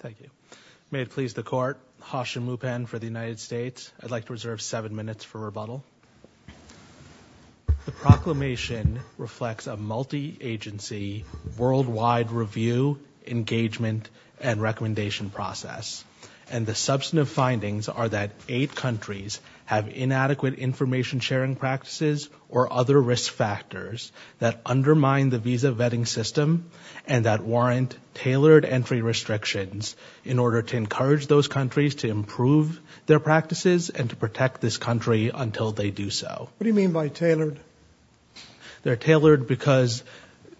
Thank you. May it please the court, Hashim Mupen for the United States. I'd like to reserve seven minutes for rebuttal. The proclamation reflects a multi-agency, worldwide review, engagement, and recommendation process. And the substantive findings are that eight countries have inadequate information sharing practices or other risk factors that undermine the visa entry restrictions in order to encourage those countries to improve their practices and to protect this country until they do so. What do you mean by tailored? They're tailored because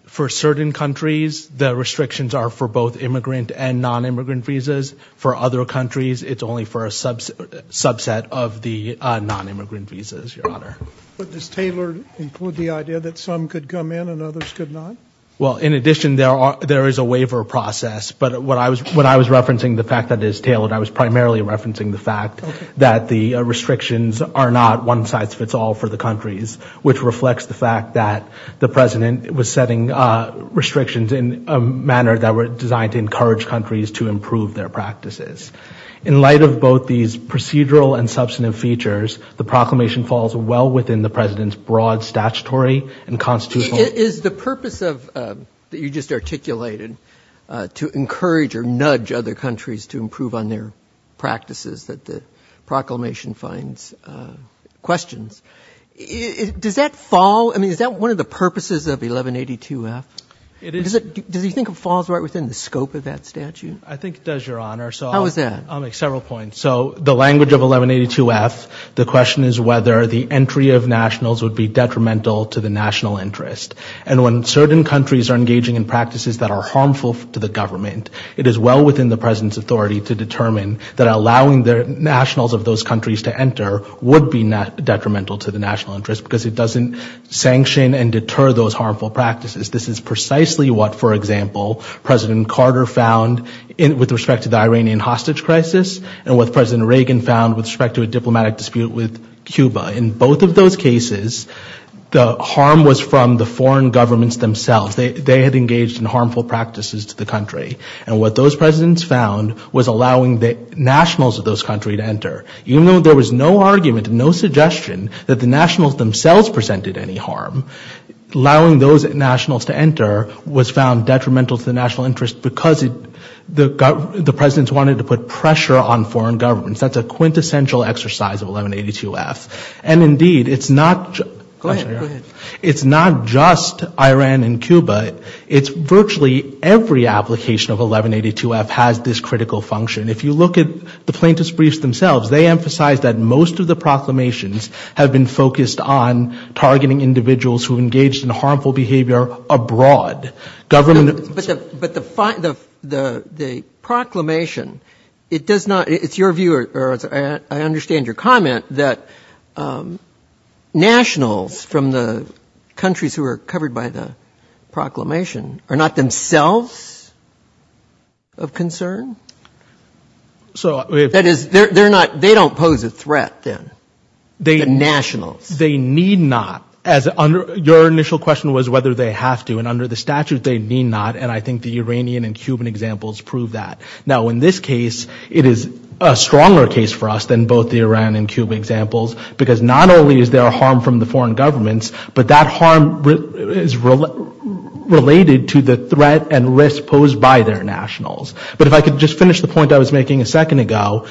for certain countries, the restrictions are for both immigrant and non-immigrant visas. For other countries, it's only for a subset of the non-immigrant visas, Your Honor. But does tailored include the idea that some could come in and others could not? Well, in addition, there is a waiver process. But when I was referencing the fact that it is tailored, I was primarily referencing the fact that the restrictions are not one size fits all for the countries, which reflects the fact that the President was setting restrictions in a manner that were designed to encourage countries to improve their practices. In light of both these procedural and substantive features, the proclamation falls well within the President's broad statutory and constitutional— Is the purpose of—that you just articulated, to encourage or nudge other countries to improve on their practices that the proclamation finds questions, does that fall—I mean, is that one of the purposes of 1182-F? It is— Does he think it falls right within the scope of that statute? I think it does, Your Honor. How is that? I'll make several points. So the language of 1182-F, the question is whether the entry of nationals would be detrimental to the national interest. And when certain countries are engaging in practices that are harmful to the government, it is well within the President's authority to determine that allowing the nationals of those countries to enter would be detrimental to the national interest because it doesn't sanction and deter those harmful practices. This is precisely what, for example, President Carter found with respect to the Iranian hostage crisis and what President Reagan found with respect to a diplomatic dispute with Cuba. In both of those cases, the harm was from the foreign governments themselves. They had engaged in harmful practices to the country. And what those presidents found was allowing the nationals of those countries to enter. Even though there was no argument, no suggestion that the nationals themselves presented any harm, allowing those nationals to enter was found detrimental to the national interest because the presidents wanted to put pressure on foreign governments. That's a quintessential exercise of 1182-F. And indeed, it's not just Iran and Cuba. It's virtually every application of 1182-F has this critical function. If you look at the plaintiffs' briefs themselves, they emphasize that most of the proclamations have been focused on targeting individuals who engaged in harmful behavior abroad. But the proclamation, it does not, it's your view, or I understand your comment, that nationals from the countries who are covered by the proclamation are not themselves of concern? So that is, they're not, they don't pose a threat then, the nationals. They need not, as your initial question was whether they have to, and under the statute they need not, and I think the Iranian and Cuban examples prove that. Now in this case, it is a stronger case for us than both the Iran and Cuba examples, because not only is there harm from the foreign governments, but that harm is related to the threat and risk posed by their nationals. But if I could just finish the point I was making a second ago,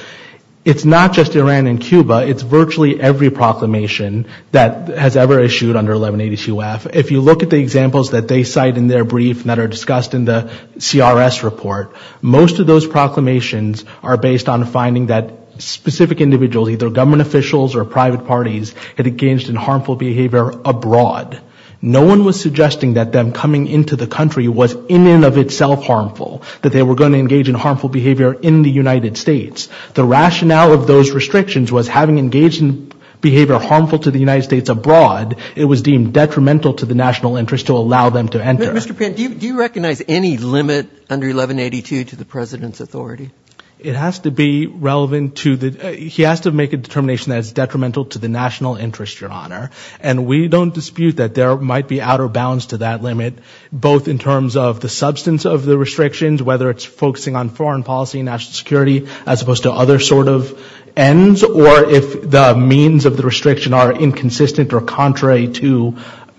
it's not just Iran and Cuba, it's virtually every proclamation that has ever issued under 1182-F. If you look at the examples that they cite in their brief that are discussed in the CRS report, most of those proclamations are based on finding that specific individuals, either government officials or private parties, had engaged in harmful behavior abroad. No one was suggesting that them coming into the country was in and of itself harmful, that they were going to engage in harmful behavior in the United States. The rationale of those restrictions was having engaged in behavior harmful to the United States abroad, it was deemed detrimental to the national interest to allow them to enter. Mr. Pan, do you recognize any limit under 1182 to the President's authority? It has to be relevant to the, he has to make a determination that is detrimental to the national interest, your honor, and we don't dispute that there might be outer bounds to that limit, both in terms of the substance of the restrictions, whether it's focusing on foreign policy and national security, as opposed to other sort of ends, or if the means of the restriction are inconsistent or contrary to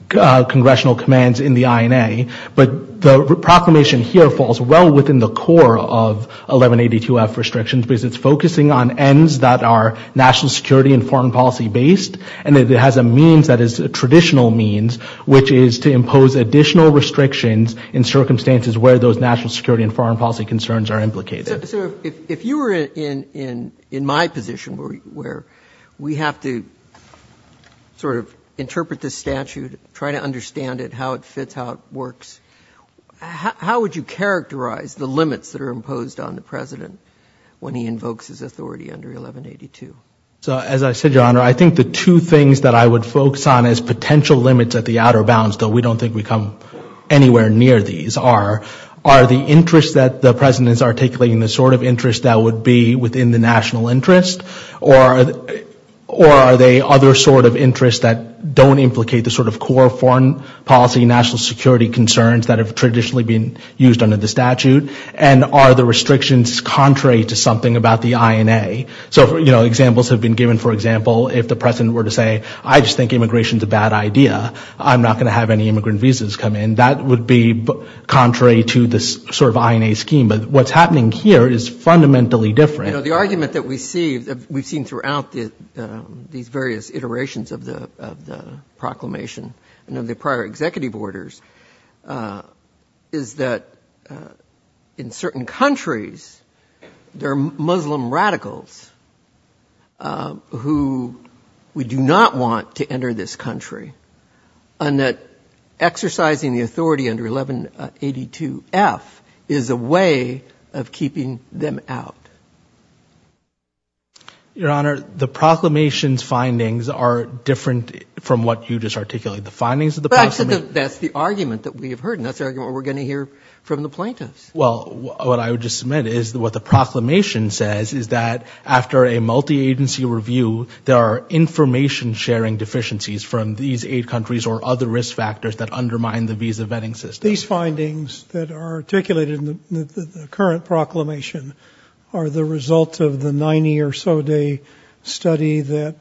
congressional commands in the INA. But the proclamation here falls well within the core of 1182-F restrictions because it's focusing on ends that are national security and foreign policy based, and it has a means that is a additional restrictions in circumstances where those national security and foreign policy concerns are implicated. So if you were in my position where we have to sort of interpret this statute, try to understand it, how it fits, how it works, how would you characterize the limits that are imposed on the President when he invokes his authority under 1182? So as I said, your honor, I think the two things that I would focus on as potential limits at the outer bounds, though we don't think we come anywhere near these, are the interests that the President is articulating, the sort of interests that would be within the national interest, or are they other sort of interests that don't implicate the sort of core foreign policy and national security concerns that have traditionally been used under the statute, and are the restrictions contrary to something about the INA? So examples have been given, for example, if the President were to say, I just think it's a bad idea, I'm not going to have any immigrant visas come in, that would be contrary to this sort of INA scheme, but what's happening here is fundamentally different. The argument that we see, we've seen throughout these various iterations of the proclamation and of the prior executive orders, is that in certain countries, there are Muslim radicals who we do not want to enter this country, and that exercising the authority under 1182-F is a way of keeping them out. Your honor, the proclamation's findings are different from what you just articulated. The findings of the proclamation? That's the argument that we have heard, and that's the argument we're going to hear from the plaintiffs. Well, what I would just submit is that what the proclamation says is that after a multi-agency review, there are information-sharing deficiencies from these eight countries or other risk factors that undermine the visa vetting system. These findings that are articulated in the current proclamation are the result of the 90 or so day study that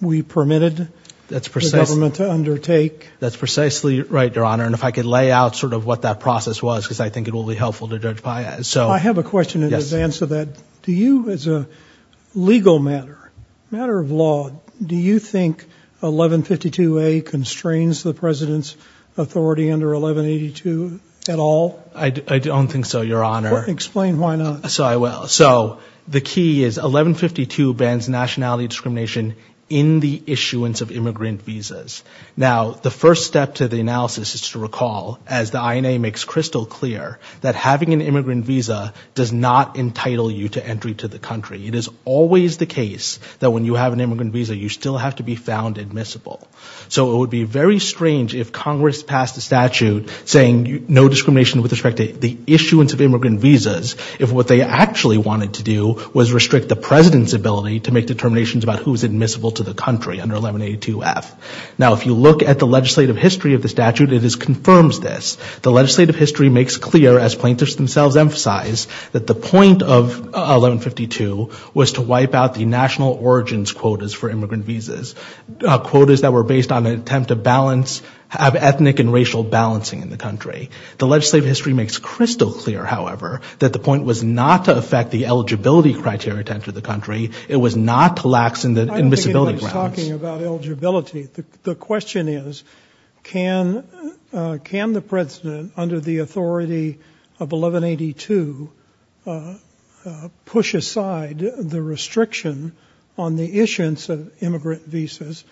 we permitted the government to undertake. That's precisely right, your honor, and if I could lay out sort of what that process was, because I think it will be helpful to Judge Paias. I have a question in advance of that. Do you, as a legal matter, matter of law, do you think 1152-A constrains the President's authority under 1182 at all? I don't think so, your honor. Explain why not. So I will. The key is 1152 bans nationality discrimination in the issuance of immigrant visas. Now the first step to the analysis is to recall, as the INA makes crystal clear, that having an immigrant visa does not entitle you to entry to the country. It is always the case that when you have an immigrant visa, you still have to be found admissible. So it would be very strange if Congress passed a statute saying no discrimination with respect to the issuance of immigrant visas, if what they actually wanted to do was restrict the President's ability to make determinations about who is admissible to the country under 1182-F. Now if you look at the legislative history of the statute, it confirms this. The legislative history makes clear, as plaintiffs themselves emphasize, that the point of 1152 was to wipe out the national origins quotas for immigrant visas, quotas that were based on an attempt to balance, have ethnic and racial balancing in the country. The legislative history makes crystal clear, however, that the point was not to affect the eligibility criteria to enter the country. It was not to lax in the admissibility grounds. You're talking about eligibility. The question is, can the President, under the authority of 1182, push aside the restriction on the issuance of immigrant visas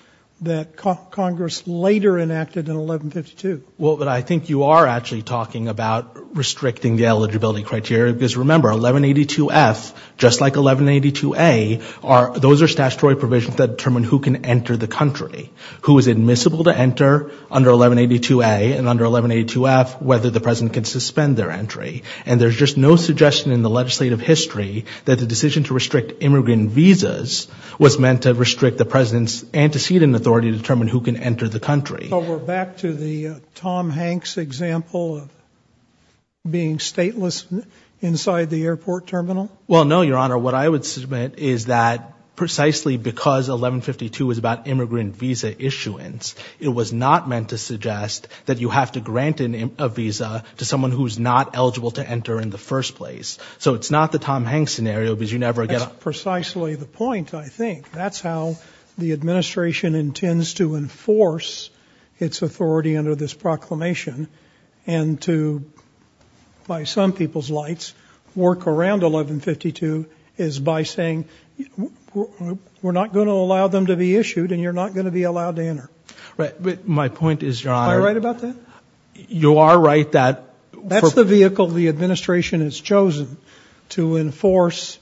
that Congress later enacted in 1152? Well, but I think you are actually talking about restricting the eligibility criteria, because remember, 1182-F, just like 1182-A, those are statutory provisions that determine who can enter the country. Who is admissible to enter under 1182-A and under 1182-F, whether the President can suspend their entry. And there's just no suggestion in the legislative history that the decision to restrict immigrant visas was meant to restrict the President's antecedent authority to determine who can enter the country. So we're back to the Tom Hanks example of being stateless inside the airport terminal? Well, no, Your Honor. What I would submit is that precisely because 1152 is about immigrant visa issuance, it was not meant to suggest that you have to grant a visa to someone who's not eligible to enter in the first place. So it's not the Tom Hanks scenario, because you never get a- That's precisely the point, I think. That's how the administration intends to enforce its authority under this proclamation and to, by some people's lights, work around 1152 is by saying, we're not going to allow them to be issued and you're not going to be allowed to enter. My point is, Your Honor- Am I right about that? You are right that- That's the vehicle the administration has chosen to enforce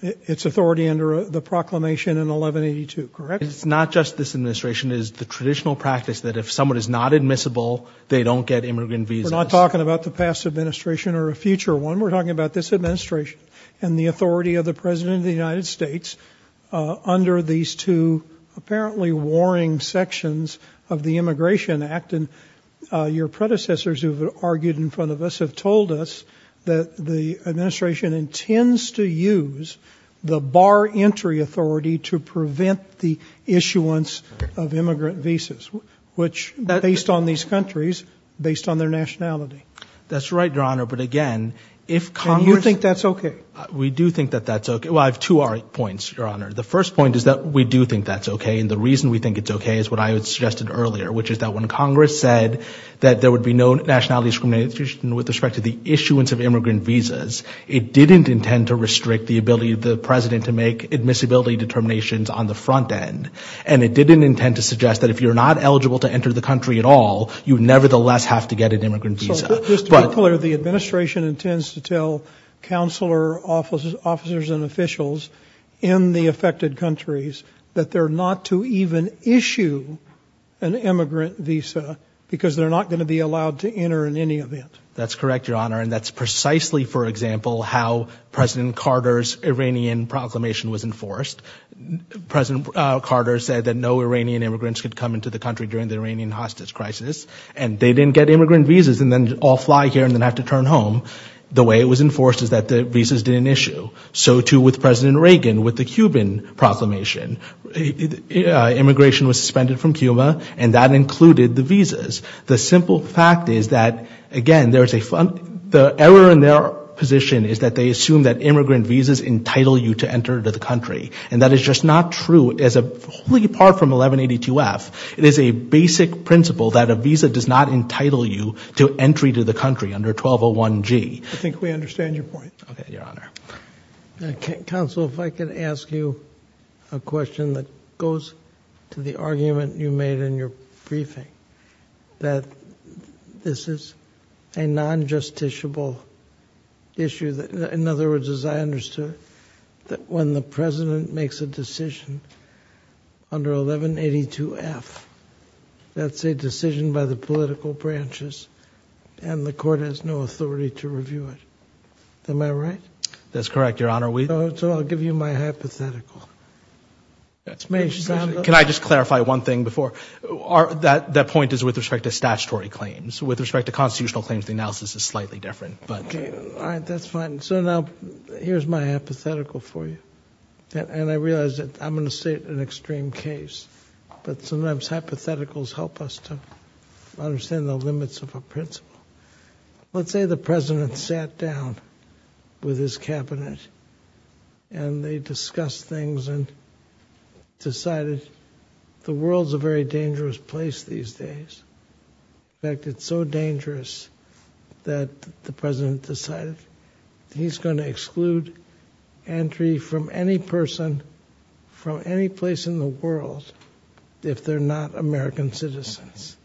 its authority under the proclamation in 1182, correct? It's not just this administration, it's the traditional practice that if someone is not admissible, they don't get immigrant visas. We're not talking about the past administration or a future one. We're talking about this administration and the authority of the President of the United States under these two apparently warring sections of the Immigration Act. Your predecessors who have argued in front of us have told us that the administration intends to use the bar entry authority to prevent the issuance of immigrant visas, which based on these countries, based on their nationality. That's right, Your Honor, but again, if Congress- And you think that's okay? We do think that that's okay. Well, I have two points, Your Honor. The first point is that we do think that's okay and the reason we think it's okay is what I had suggested earlier, which is that when Congress said that there would be no nationality discrimination with respect to the issuance of immigrant visas, it didn't intend to restrict the ability of the President to make admissibility determinations on the country at all. You nevertheless have to get an immigrant visa. So, just to be clear, the administration intends to tell counselor officers and officials in the affected countries that they're not to even issue an immigrant visa because they're not going to be allowed to enter in any event. That's correct, Your Honor, and that's precisely, for example, how President Carter's Iranian proclamation was enforced. President Carter said that no Iranian immigrants could come into the country during the Iranian hostage crisis and they didn't get immigrant visas and then all fly here and then have to turn home. The way it was enforced is that the visas didn't issue. So too with President Reagan with the Cuban proclamation. Immigration was suspended from Cuba and that included the visas. The simple fact is that, again, the error in their position is that they assume that immigrant visas entitle you to enter the country and that is just not true. So, as a wholly apart from 1182F, it is a basic principle that a visa does not entitle you to entry to the country under 1201G. I think we understand your point. Okay, Your Honor. Counsel, if I could ask you a question that goes to the argument you made in your briefing that this is a non-justiciable issue that, in other words, as I understood, that when the President makes a decision under 1182F, that's a decision by the political branches and the court has no authority to review it. Am I right? That's correct, Your Honor. So, I'll give you my hypothetical. Can I just clarify one thing before? That point is with respect to statutory claims. With respect to constitutional claims, the analysis is slightly different. All right. That's fine. So, now, here's my hypothetical for you. And I realize that I'm going to say it in an extreme case, but sometimes hypotheticals help us to understand the limits of a principle. Let's say the President sat down with his Cabinet and they discussed things and decided the world's a very dangerous place these days, in fact, it's so dangerous that the President decided he's going to exclude entry from any person from any place in the world if they're not American citizens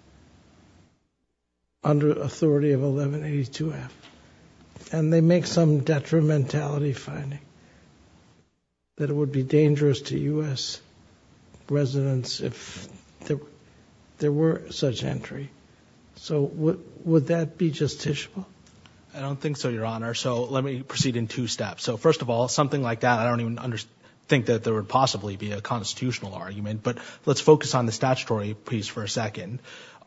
under authority of 1182F. And they make some detrimentality finding that it would be dangerous to U.S. residents if there were such entry. So would that be justiciable? I don't think so, Your Honor. So, let me proceed in two steps. So, first of all, something like that, I don't even think that there would possibly be a constitutional argument, but let's focus on the statutory piece for a second.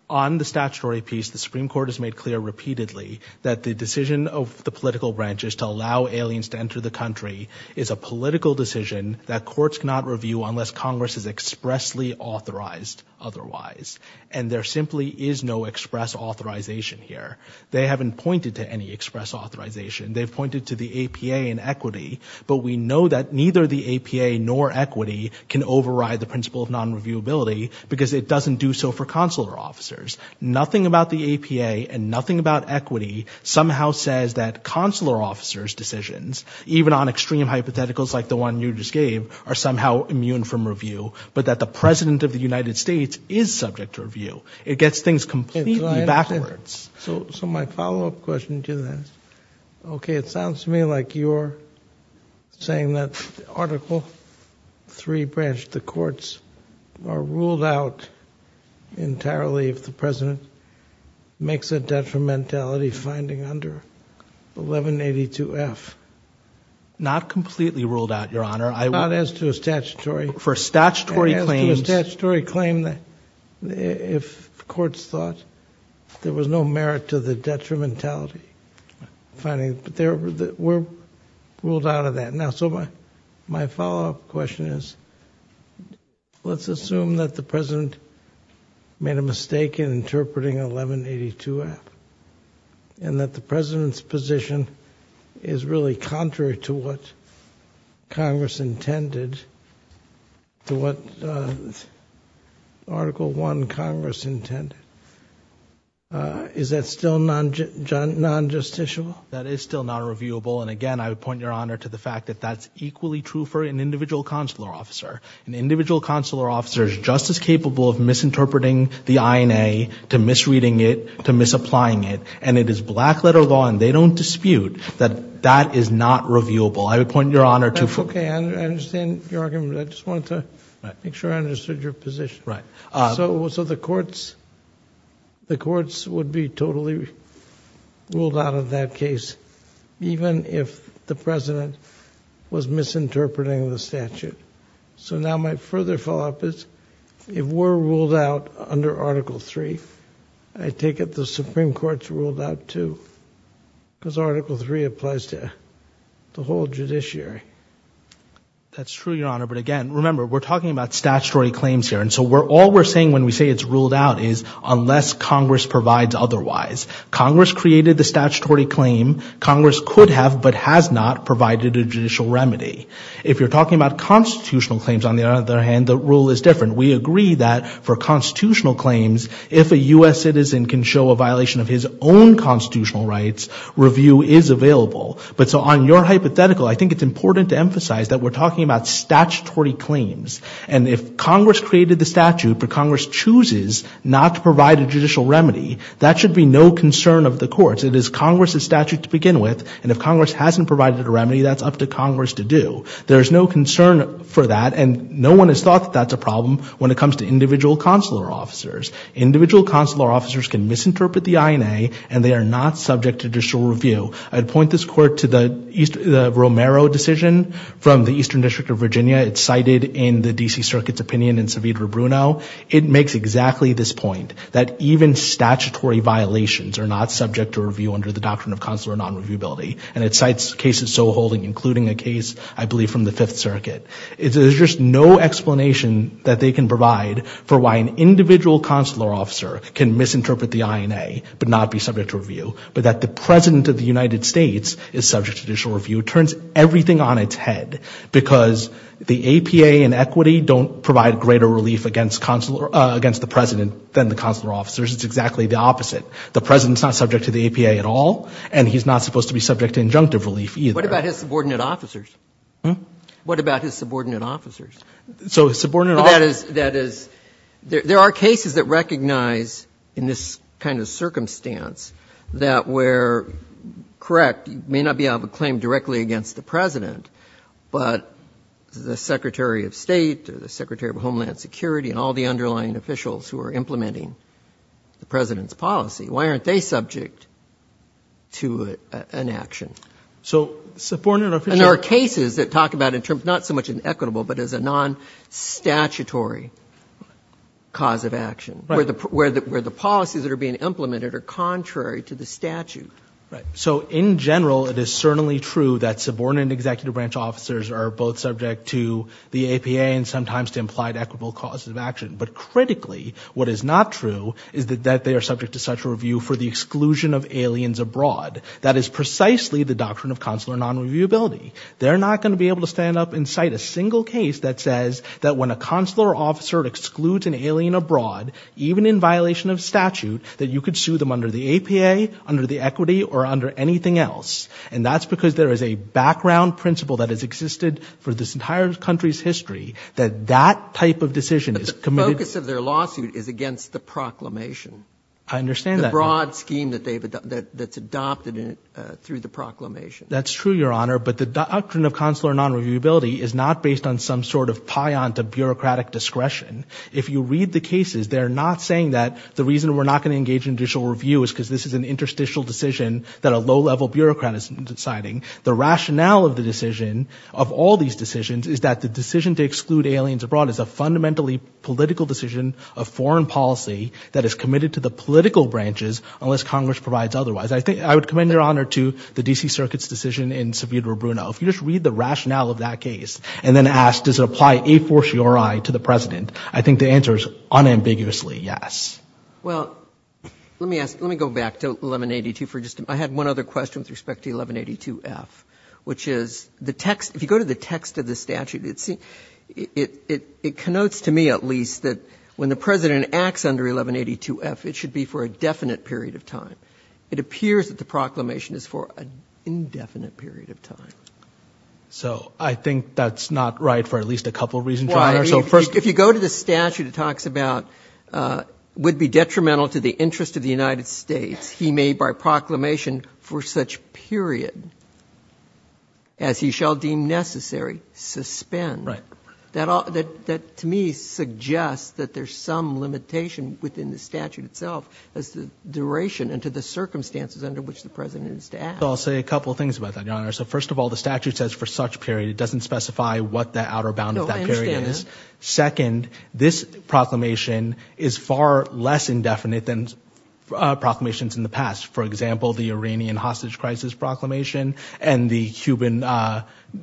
On the statutory piece, the Supreme Court has made clear repeatedly that the decision of the political branch is to allow aliens to enter the country is a political decision that courts cannot review unless Congress is expressly authorized otherwise. And there simply is no express authorization here. They haven't pointed to any express authorization. They've pointed to the APA and equity, but we know that neither the APA nor equity can override the principle of non-reviewability because it doesn't do so for consular officers. Nothing about the APA and nothing about equity somehow says that consular officers' decisions, even on extreme hypotheticals like the one you just gave, are somehow immune from review, but that the President of the United States is subject to review. It gets things completely backwards. So my follow-up question to that is, okay, it sounds to me like you're saying that Article III branch, the courts, are ruled out entirely if the President makes a detrimentality finding under 1182F. Not completely ruled out, Your Honor. Not as to a statutory. For statutory claims. For a statutory claim if courts thought there was no merit to the detrimentality finding. But they were ruled out of that. Now, so my follow-up question is, let's assume that the President made a mistake in interpreting 1182F and that the President's position is really contrary to what Congress intended to what Article I Congress intended. Is that still non-justiciable? That is still not reviewable, and again, I would point Your Honor to the fact that that's equally true for an individual consular officer. An individual consular officer is just as capable of misinterpreting the INA to misreading it, to misapplying it, and it is black-letter law and they don't dispute that that is not reviewable. I would point Your Honor to... Okay. I understand your argument. I just wanted to make sure I understood your position. So the courts would be totally ruled out of that case even if the President was misinterpreting the statute. So now my further follow-up is, if we're ruled out under Article III, I take it the Supreme Court's ruling on Article III applies to the whole judiciary? That's true, Your Honor, but again, remember, we're talking about statutory claims here, and so all we're saying when we say it's ruled out is unless Congress provides otherwise. Congress created the statutory claim. Congress could have but has not provided a judicial remedy. If you're talking about constitutional claims, on the other hand, the rule is different. We agree that for constitutional claims, if a U.S. citizen can show a violation of his own constitutional rights, review is available. But so on your hypothetical, I think it's important to emphasize that we're talking about statutory claims. And if Congress created the statute, but Congress chooses not to provide a judicial remedy, that should be no concern of the courts. It is Congress's statute to begin with, and if Congress hasn't provided a remedy, that's up to Congress to do. There's no concern for that, and no one has thought that that's a problem when it comes to individual consular officers. Individual consular officers can misinterpret the INA, and they are not subject to judicial review. I'd point this court to the Romero decision from the Eastern District of Virginia. It's cited in the D.C. Circuit's opinion in Savita-Bruno. It makes exactly this point, that even statutory violations are not subject to review under the doctrine of consular non-reviewability, and it cites cases so holding, including a case I believe from the Fifth Circuit. There's just no explanation that they can provide for why an individual consular officer can misinterpret the INA, but not be subject to review, but that the President of the United States is subject to judicial review turns everything on its head, because the APA and equity don't provide greater relief against the President than the consular officers. It's exactly the opposite. The President's not subject to the APA at all, and he's not supposed to be subject to injunctive relief either. What about his subordinate officers? Hm? What about his subordinate officers? So his subordinate officers... That is, there are cases that recognize, in this kind of circumstance, that where, correct, you may not be able to claim directly against the President, but the Secretary of State or the Secretary of Homeland Security and all the underlying officials who are implementing the President's policy, why aren't they subject to an action? So subordinate officers... And there are cases that talk about it in terms, not so much as equitable, but as a non-statutory cause of action, where the policies that are being implemented are contrary to the statute. Right. So in general, it is certainly true that subordinate executive branch officers are both subject to the APA and sometimes to implied equitable causes of action, but critically, what is not true is that they are subject to such a review for the exclusion of aliens abroad. That is precisely the doctrine of consular non-reviewability. They're not going to be able to stand up and cite a single case that says that when a consular officer excludes an alien abroad, even in violation of statute, that you could sue them under the APA, under the equity, or under anything else. And that's because there is a background principle that has existed for this entire country's history that that type of decision is committed... But the focus of their lawsuit is against the proclamation. I understand that. It's a broad scheme that's adopted through the proclamation. That's true, Your Honor, but the doctrine of consular non-reviewability is not based on some sort of piont of bureaucratic discretion. If you read the cases, they're not saying that the reason we're not going to engage in judicial review is because this is an interstitial decision that a low-level bureaucrat is deciding. The rationale of the decision, of all these decisions, is that the decision to exclude aliens abroad is a fundamentally political decision of foreign policy that is committed to the political branches unless Congress provides otherwise. I would commend, Your Honor, to the D.C. Circuit's decision in Savita-Bruno. If you just read the rationale of that case and then ask, does it apply a fortiori to the President, I think the answer is unambiguously yes. Well, let me ask, let me go back to 1182 for just a minute. I had one other question with respect to 1182F, which is the text, if you go to the text of the statute, it connotes to me, at least, that when the President acts under 1182F, it should be for a definite period of time. It appears that the proclamation is for an indefinite period of time. So I think that's not right for at least a couple of reasons, Your Honor, so first Why, if you go to the statute, it talks about would be detrimental to the interest of the United States, he may by proclamation for such period as he shall deem necessary suspend. Right. That to me suggests that there's some limitation within the statute itself as to duration and to the circumstances under which the President is to act. I'll say a couple of things about that, Your Honor. So first of all, the statute says for such period, it doesn't specify what the outer bound of that period is. No, I understand. Second, this proclamation is far less indefinite than proclamations in the past. For example, the Iranian hostage crisis proclamation and the Cuban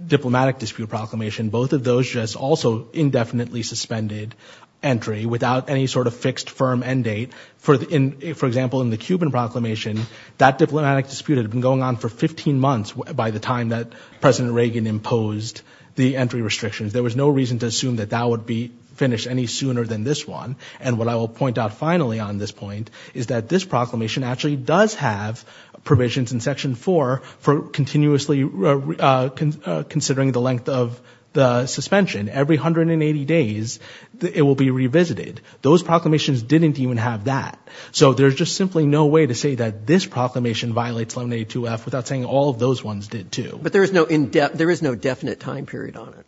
diplomatic dispute proclamation, both of those just also indefinitely suspended entry without any sort of fixed firm end date. For example, in the Cuban proclamation, that diplomatic dispute had been going on for 15 months by the time that President Reagan imposed the entry restrictions. There was no reason to assume that that would be finished any sooner than this one. And what I will point out finally on this point is that this proclamation actually does have provisions in Section 4 for continuously considering the length of the suspension. Every 180 days, it will be revisited. Those proclamations didn't even have that. So there's just simply no way to say that this proclamation violates 182F without saying all of those ones did too. But there is no definite time period on it.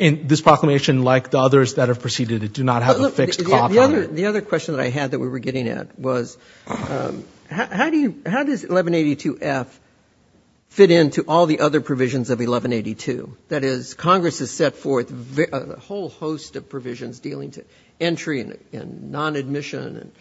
And this proclamation, like the others that have preceded it, do not have a fixed clock on it. The other question that I had that we were getting at was, how does 1182F fit into all the other provisions of 1182? That is, Congress has set forth a whole host of provisions dealing to entry and non-admission and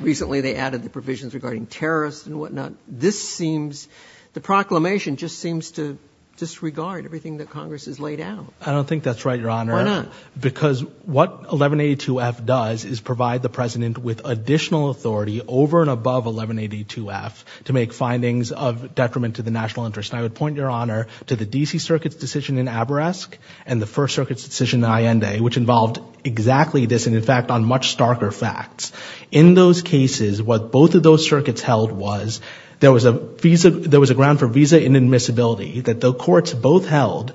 recently they added the provisions regarding terrorists and whatnot. This seems, the proclamation just seems to disregard everything that Congress has laid out. I don't think that's right, Your Honor. Why not? Because what 1182F does is provide the President with additional authority over and above 1182F to make findings of detriment to the national interest. And I would point, Your Honor, to the D.C. Circuit's decision in Aberesk and the First Circuit's decision in Allende, which involved exactly this and in fact on much starker facts. In those cases, what both of those circuits held was there was a visa, there was a ground for visa inadmissibility that the courts both held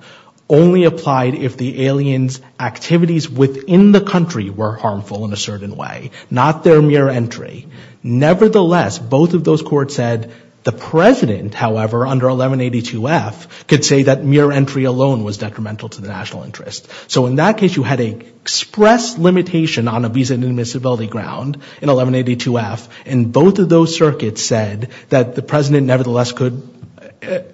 only applied if the alien's activities within the country were harmful in a certain way, not their mere entry. Nevertheless, both of those courts said the President, however, under 1182F, could say that mere entry alone was detrimental to the national interest. So in that case, you had an express limitation on a visa inadmissibility ground in 1182F and both of those circuits said that the President nevertheless could,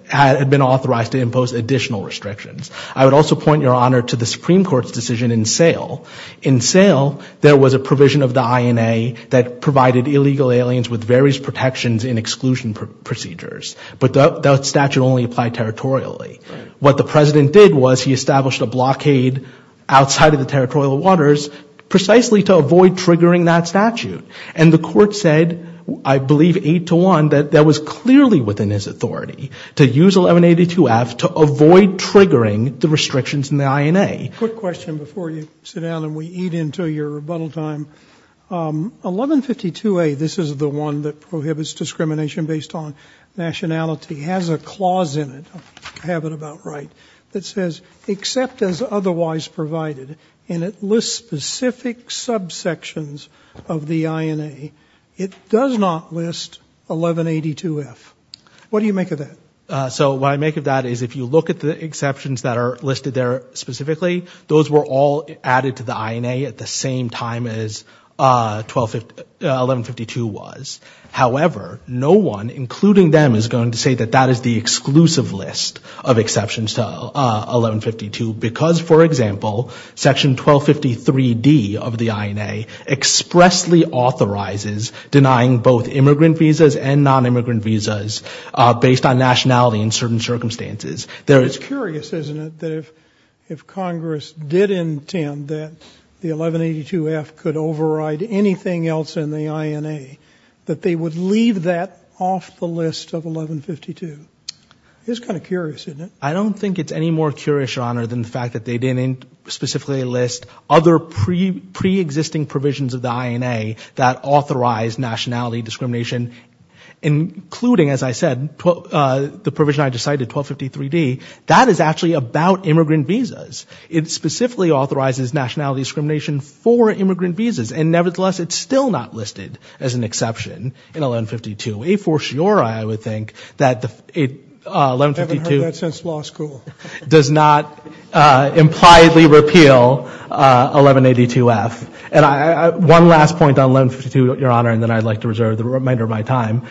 had been authorized to impose additional restrictions. I would also point, Your Honor, to the Supreme Court's decision in Sale. In Sale, there was a provision of the INA that provided illegal aliens with various protections and exclusion procedures, but that statute only applied territorially. What the President did was he established a blockade outside of the territorial waters precisely to avoid triggering that statute. And the court said, I believe eight to one, that that was clearly within his authority to use 1182F to avoid triggering the restrictions in the INA. Quick question before you sit down and we eat into your rebuttal time. 1152A, this is the one that prohibits discrimination based on nationality, has a clause in it. I have it about right. It says, except as otherwise provided, and it lists specific subsections of the INA, it does not list 1182F. What do you make of that? So, what I make of that is if you look at the exceptions that are listed there specifically, those were all added to the INA at the same time as 1152 was. However, no one, including them, is going to say that that is the exclusive list of exceptions to 1152 because, for example, section 1253D of the INA expressly authorizes denying both immigrant visas and non-immigrant visas based on nationality in certain circumstances. There is curious, isn't it, that if Congress did intend that the 1182F could override anything else in the INA, that they would leave that off the list of 1152? It is kind of curious, isn't it? I don't think it's any more curious, Your Honor, than the fact that they didn't specifically list other pre-existing provisions of the INA that authorize nationality discrimination, including, as I said, the provision I just cited, 1253D. That is actually about immigrant visas. It specifically authorizes nationality discrimination for immigrant visas, and nevertheless, it's still not listed as an exception in 1152, a foreshore, I would think, that 1152 does not impliedly repeal 1182F. One last point on 1152, Your Honor, and then I'd like to reserve the remainder of my time.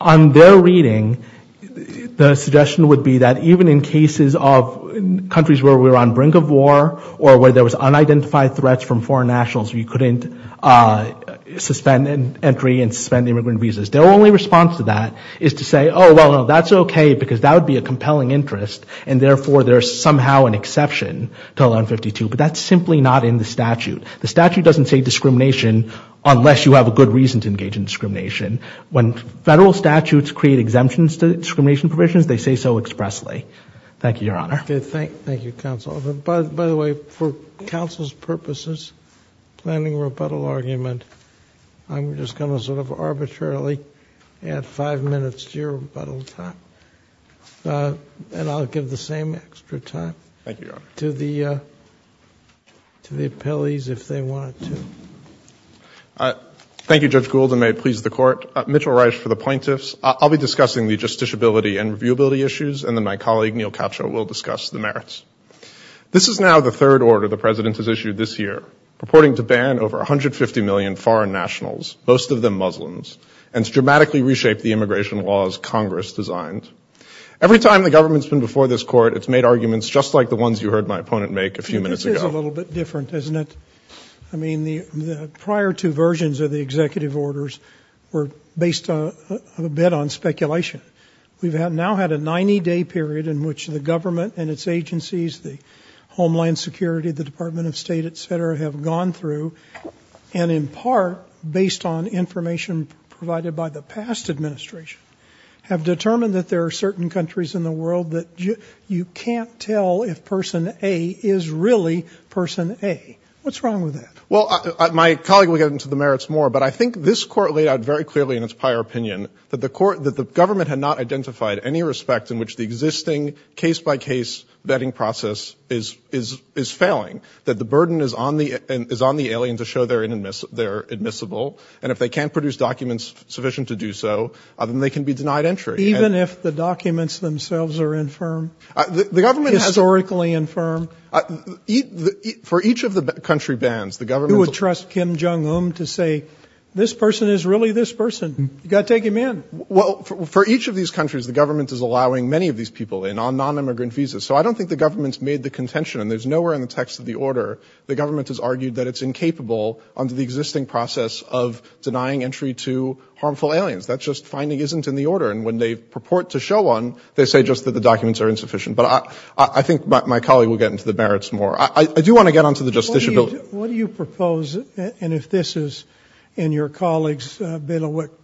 On their reading, the suggestion would be that even in cases of countries where we were on brink of war, or where there was unidentified threats from foreign nationals, we couldn't suspend entry and suspend immigrant visas. Their only response to that is to say, oh, well, that's okay, because that would be a compelling interest, and therefore, there's somehow an exception to 1152, but that's simply not in the statute. The statute doesn't say discrimination unless you have a good reason to engage in discrimination. When federal statutes create exemptions to discrimination provisions, they say so expressly. Thank you, Your Honor. Okay. Thank you, counsel. By the way, for counsel's purposes, planning rebuttal argument, I'm just going to sort of arbitrarily add five minutes to your rebuttal time, and I'll give the same extra time to the appellees if they want to. Thank you, Judge Gould, and may it please the Court. Mitchell Rice for the plaintiffs. I'll be discussing the justiciability and reviewability issues, and then my colleague Neil Coucho will discuss the merits. This is now the third order the President has issued this year, purporting to ban over 150 million foreign nationals, most of them Muslims, and to dramatically reshape the immigration laws Congress designed. Every time the government's been before this Court, it's made arguments just like the ones you heard my opponent make a few minutes ago. This is a little bit different, isn't it? I mean, the prior two versions of the executive orders were based a bit on speculation. We've now had a 90-day period in which the government and its agencies, the Homeland Security, the Department of State, et cetera, have gone through and, in part, based on information provided by the past administration, have determined that there are certain countries in the world that you can't tell if Person A is really Person A. What's wrong with that? Well, my colleague will get into the merits more, but I think this Court laid out very any respect in which the existing case-by-case vetting process is failing, that the burden is on the alien to show they're admissible, and if they can't produce documents sufficient to do so, then they can be denied entry. Even if the documents themselves are infirm, historically infirm? For each of the country bans, the government would trust Kim Jong-un to say, this person is really this person. You've got to take him in. Well, for each of these countries, the government is allowing many of these people in on non-immigrant visas, so I don't think the government's made the contention, and there's nowhere in the text of the order the government has argued that it's incapable under the existing process of denying entry to harmful aliens. That's just finding isn't in the order, and when they purport to show one, they say just that the documents are insufficient, but I think my colleague will get into the merits more. I do want to get onto the justiciability. What do you propose, and if this is in your colleagues,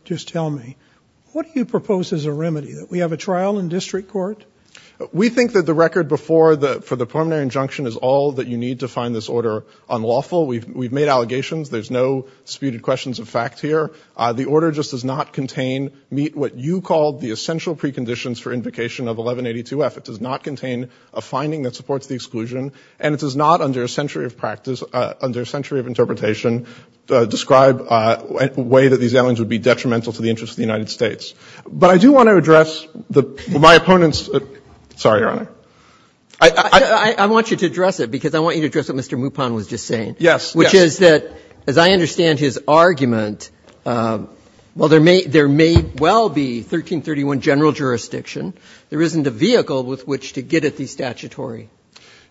just tell me, what do you propose as a remedy? That we have a trial in district court? We think that the record before the preliminary injunction is all that you need to find this order unlawful. We've made allegations. There's no disputed questions of fact here. The order just does not contain, meet what you called the essential preconditions for invocation of 1182-F. It does not contain a finding that supports the exclusion, and it does not, under a century of practice, under a century of interpretation, describe a way that these aliens would be detrimental to the interests of the United States, but I do want to address my opponent's, sorry, Your Honor. I want you to address it, because I want you to address what Mr. Mupon was just saying. Yes. Which is that, as I understand his argument, well, there may well be 1331 general jurisdiction. There isn't a vehicle with which to get at these statutory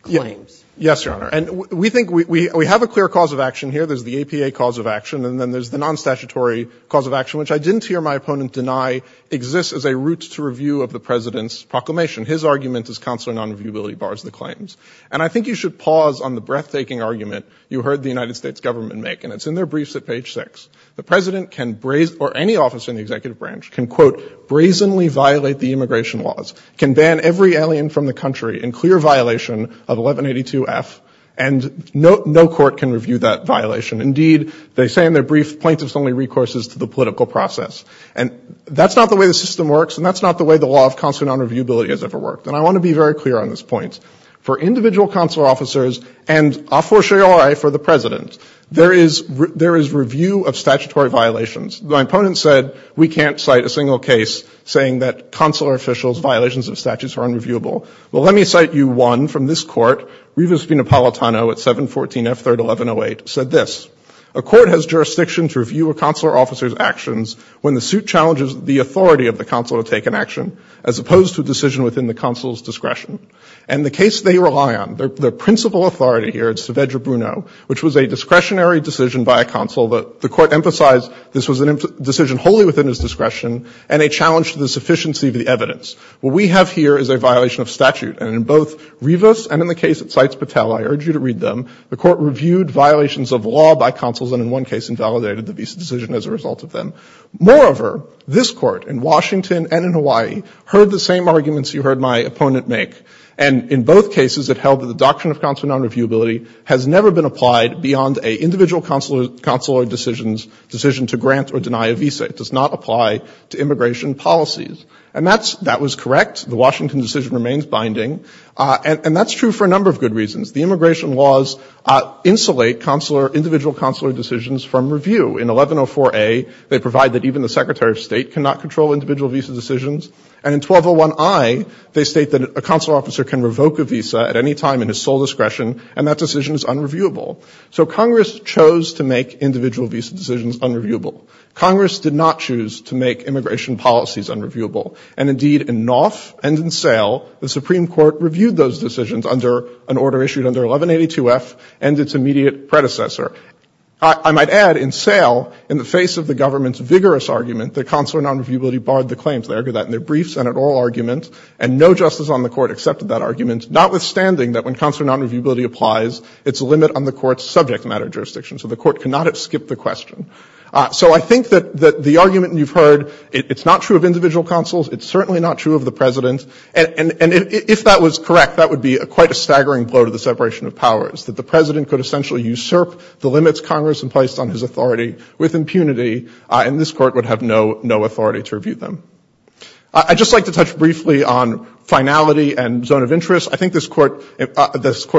claims. Yes, Your Honor. And we think we have a clear cause of action here. There's the APA cause of action, and then there's the non-statutory cause of action, which I didn't hear my opponent deny exists as a route to review of the President's proclamation. His argument is consular non-reviewability bars the claims. And I think you should pause on the breathtaking argument you heard the United States government make, and it's in their briefs at page 6. The President can, or any officer in the executive branch, can, quote, brazenly violate the immigration laws, can ban every alien from the country in clear violation of 1182F, and no court can review that violation. Indeed, they say in their brief, plaintiffs only recourse to the political process. And that's not the way the system works, and that's not the way the law of consular non-reviewability has ever worked. And I want to be very clear on this point. For individual consular officers, and a fortiori for the President, there is review of statutory violations. My opponent said we can't cite a single case saying that consular officials' violations of statutes are unreviewable. Well, let me cite you one from this court. Rivas Pinapolitano at 714F, 3rd 1108, said this. A court has jurisdiction to review a consular officer's actions when the suit challenges the authority of the consular to take an action, as opposed to a decision within the consular's discretion. And the case they rely on, their principal authority here at Saavedra Bruno, which was a discretionary decision by a consul, the court emphasized this was a decision wholly within his discretion, and a challenge to the sufficiency of the evidence. What we have here is a violation of statute, and in both Rivas and in the case that cites Patel, I urge you to read them, the court reviewed violations of law by consuls and in one case invalidated the visa decision as a result of them. Moreover, this court, in Washington and in Hawaii, heard the same arguments you heard my opponent make. And in both cases, it held that the doctrine of consular non-reviewability has never been applied beyond an individual consular decision to grant or deny a visa. It does not apply to immigration policies. And that was correct. The Washington decision remains binding. And that's true for a number of good reasons. The immigration laws insulate individual consular decisions from review. In 1104A, they provide that even the Secretary of State cannot control individual visa decisions. And in 1201I, they state that a consular officer can revoke a visa at any time in his sole discretion, and that decision is unreviewable. So Congress chose to make individual visa decisions unreviewable. Congress did not choose to make immigration policies unreviewable. And indeed, in Knopf and in Sale, the Supreme Court reviewed those decisions under an order issued under 1182F and its immediate predecessor. I might add, in Sale, in the face of the government's vigorous argument that consular non-reviewability barred the claims, they argued that in their brief Senate oral argument, and no justice on the Court accepted that argument, notwithstanding that when consular non-reviewability applies, it's a limit on the Court's subject matter jurisdiction. So the Court cannot have skipped the question. So I think that the argument you've heard, it's not true of individual consuls. It's certainly not true of the President. And if that was correct, that would be quite a staggering blow to the separation of powers, that the President could essentially usurp the limits Congress had placed on his authority with impunity, and this Court would have no authority to review them. I'd just like to touch briefly on finality and zone of interest. I think this Court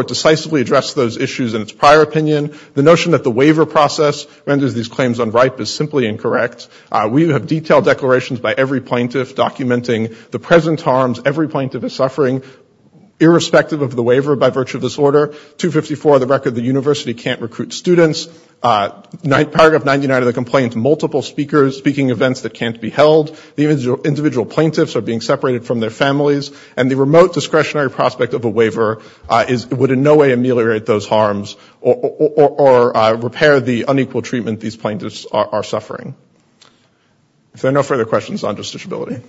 decisively addressed those issues in its prior opinion. The notion that the waiver process renders these claims unripe is simply incorrect. We have detailed declarations by every plaintiff documenting the present harms every plaintiff is suffering, irrespective of the waiver by virtue of this order. 254, the record the university can't recruit students. Paragraph 99 of the complaint, multiple speakers speaking events that can't be held. The individual plaintiffs are being separated from their families, and the remote discretionary prospect of a waiver would in no way ameliorate those harms or repair the unequal treatment these plaintiffs are suffering. If there are no further questions, I'll address this ability.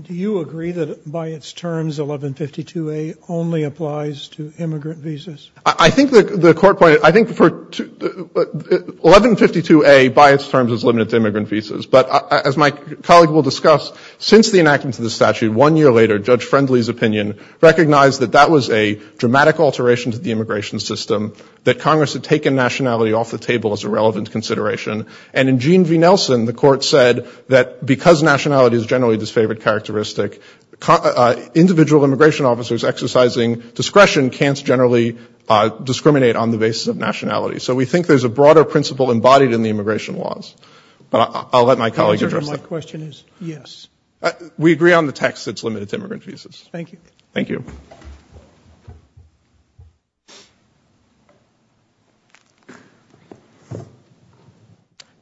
Do you agree that by its terms, 1152A only applies to immigrant visas? I think the Court pointed, I think for, 1152A by its terms is limited to immigrant visas. But as my colleague will discuss, since the enactment of the statute, one year later, Judge Friendly's opinion recognized that that was a dramatic alteration to the immigration system, that Congress had taken nationality off the table as a relevant consideration. And in Gene V. Nelson, the Court said that because nationality is generally a disfavored characteristic, individual immigration officers exercising discretion can't generally discriminate on the basis of nationality. So we think there's a broader principle embodied in the immigration laws. But I'll let my colleague address that. The answer to my question is yes. We agree on the text, it's limited to immigrant visas. Thank you. Thank you.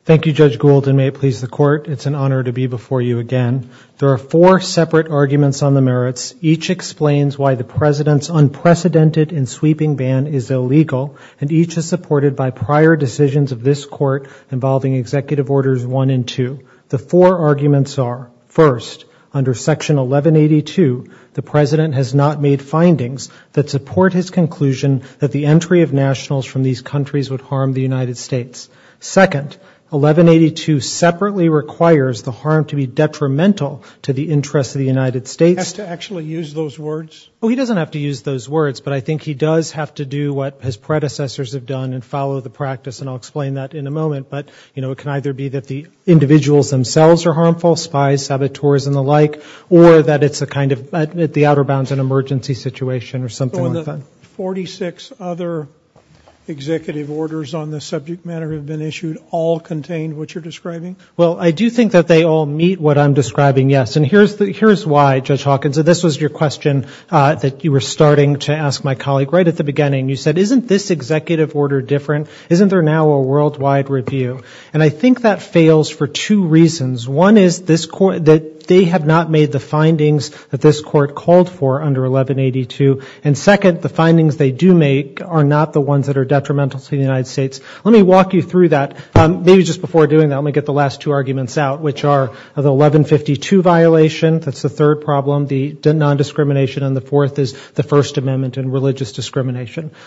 Thank you, Judge Gould, and may it please the Court, it's an honor to be before you again. There are four separate arguments on the merits. Each explains why the President's unprecedented and sweeping ban is illegal, and each is supported by prior decisions of this Court involving Executive Orders 1 and 2. The four arguments are, first, under Section 1182, the President has not made findings that support his conclusion that the entry of nationals from these countries would harm the United States. Second, 1182 separately requires the harm to be detrimental to the interests of the United States. He has to actually use those words? Oh, he doesn't have to use those words, but I think he does have to do what his predecessors have done and follow the practice, and I'll explain that in a moment. But, you know, it can either be that the individuals themselves are harmful, spies, saboteurs, and the like, or that it's a kind of, at the outer bounds, an emergency situation or something like that. So when the 46 other Executive Orders on this subject matter have been issued, all contain what you're describing? Well, I do think that they all meet what I'm describing, yes. And here's why, Judge Hawkins, and this was your question that you were starting to ask my colleague right at the beginning. You said, isn't this Executive Order different? Isn't there now a worldwide review? And I think that fails for two reasons. One is that they have not made the findings that this Court called for under 1182. And second, the findings they do make are not the ones that are detrimental to the United States. Let me walk you through that. Maybe just before doing that, let me get the last two arguments out, which are the 1152 violation, that's the third problem, the nondiscrimination, and the fourth is the First Amendment and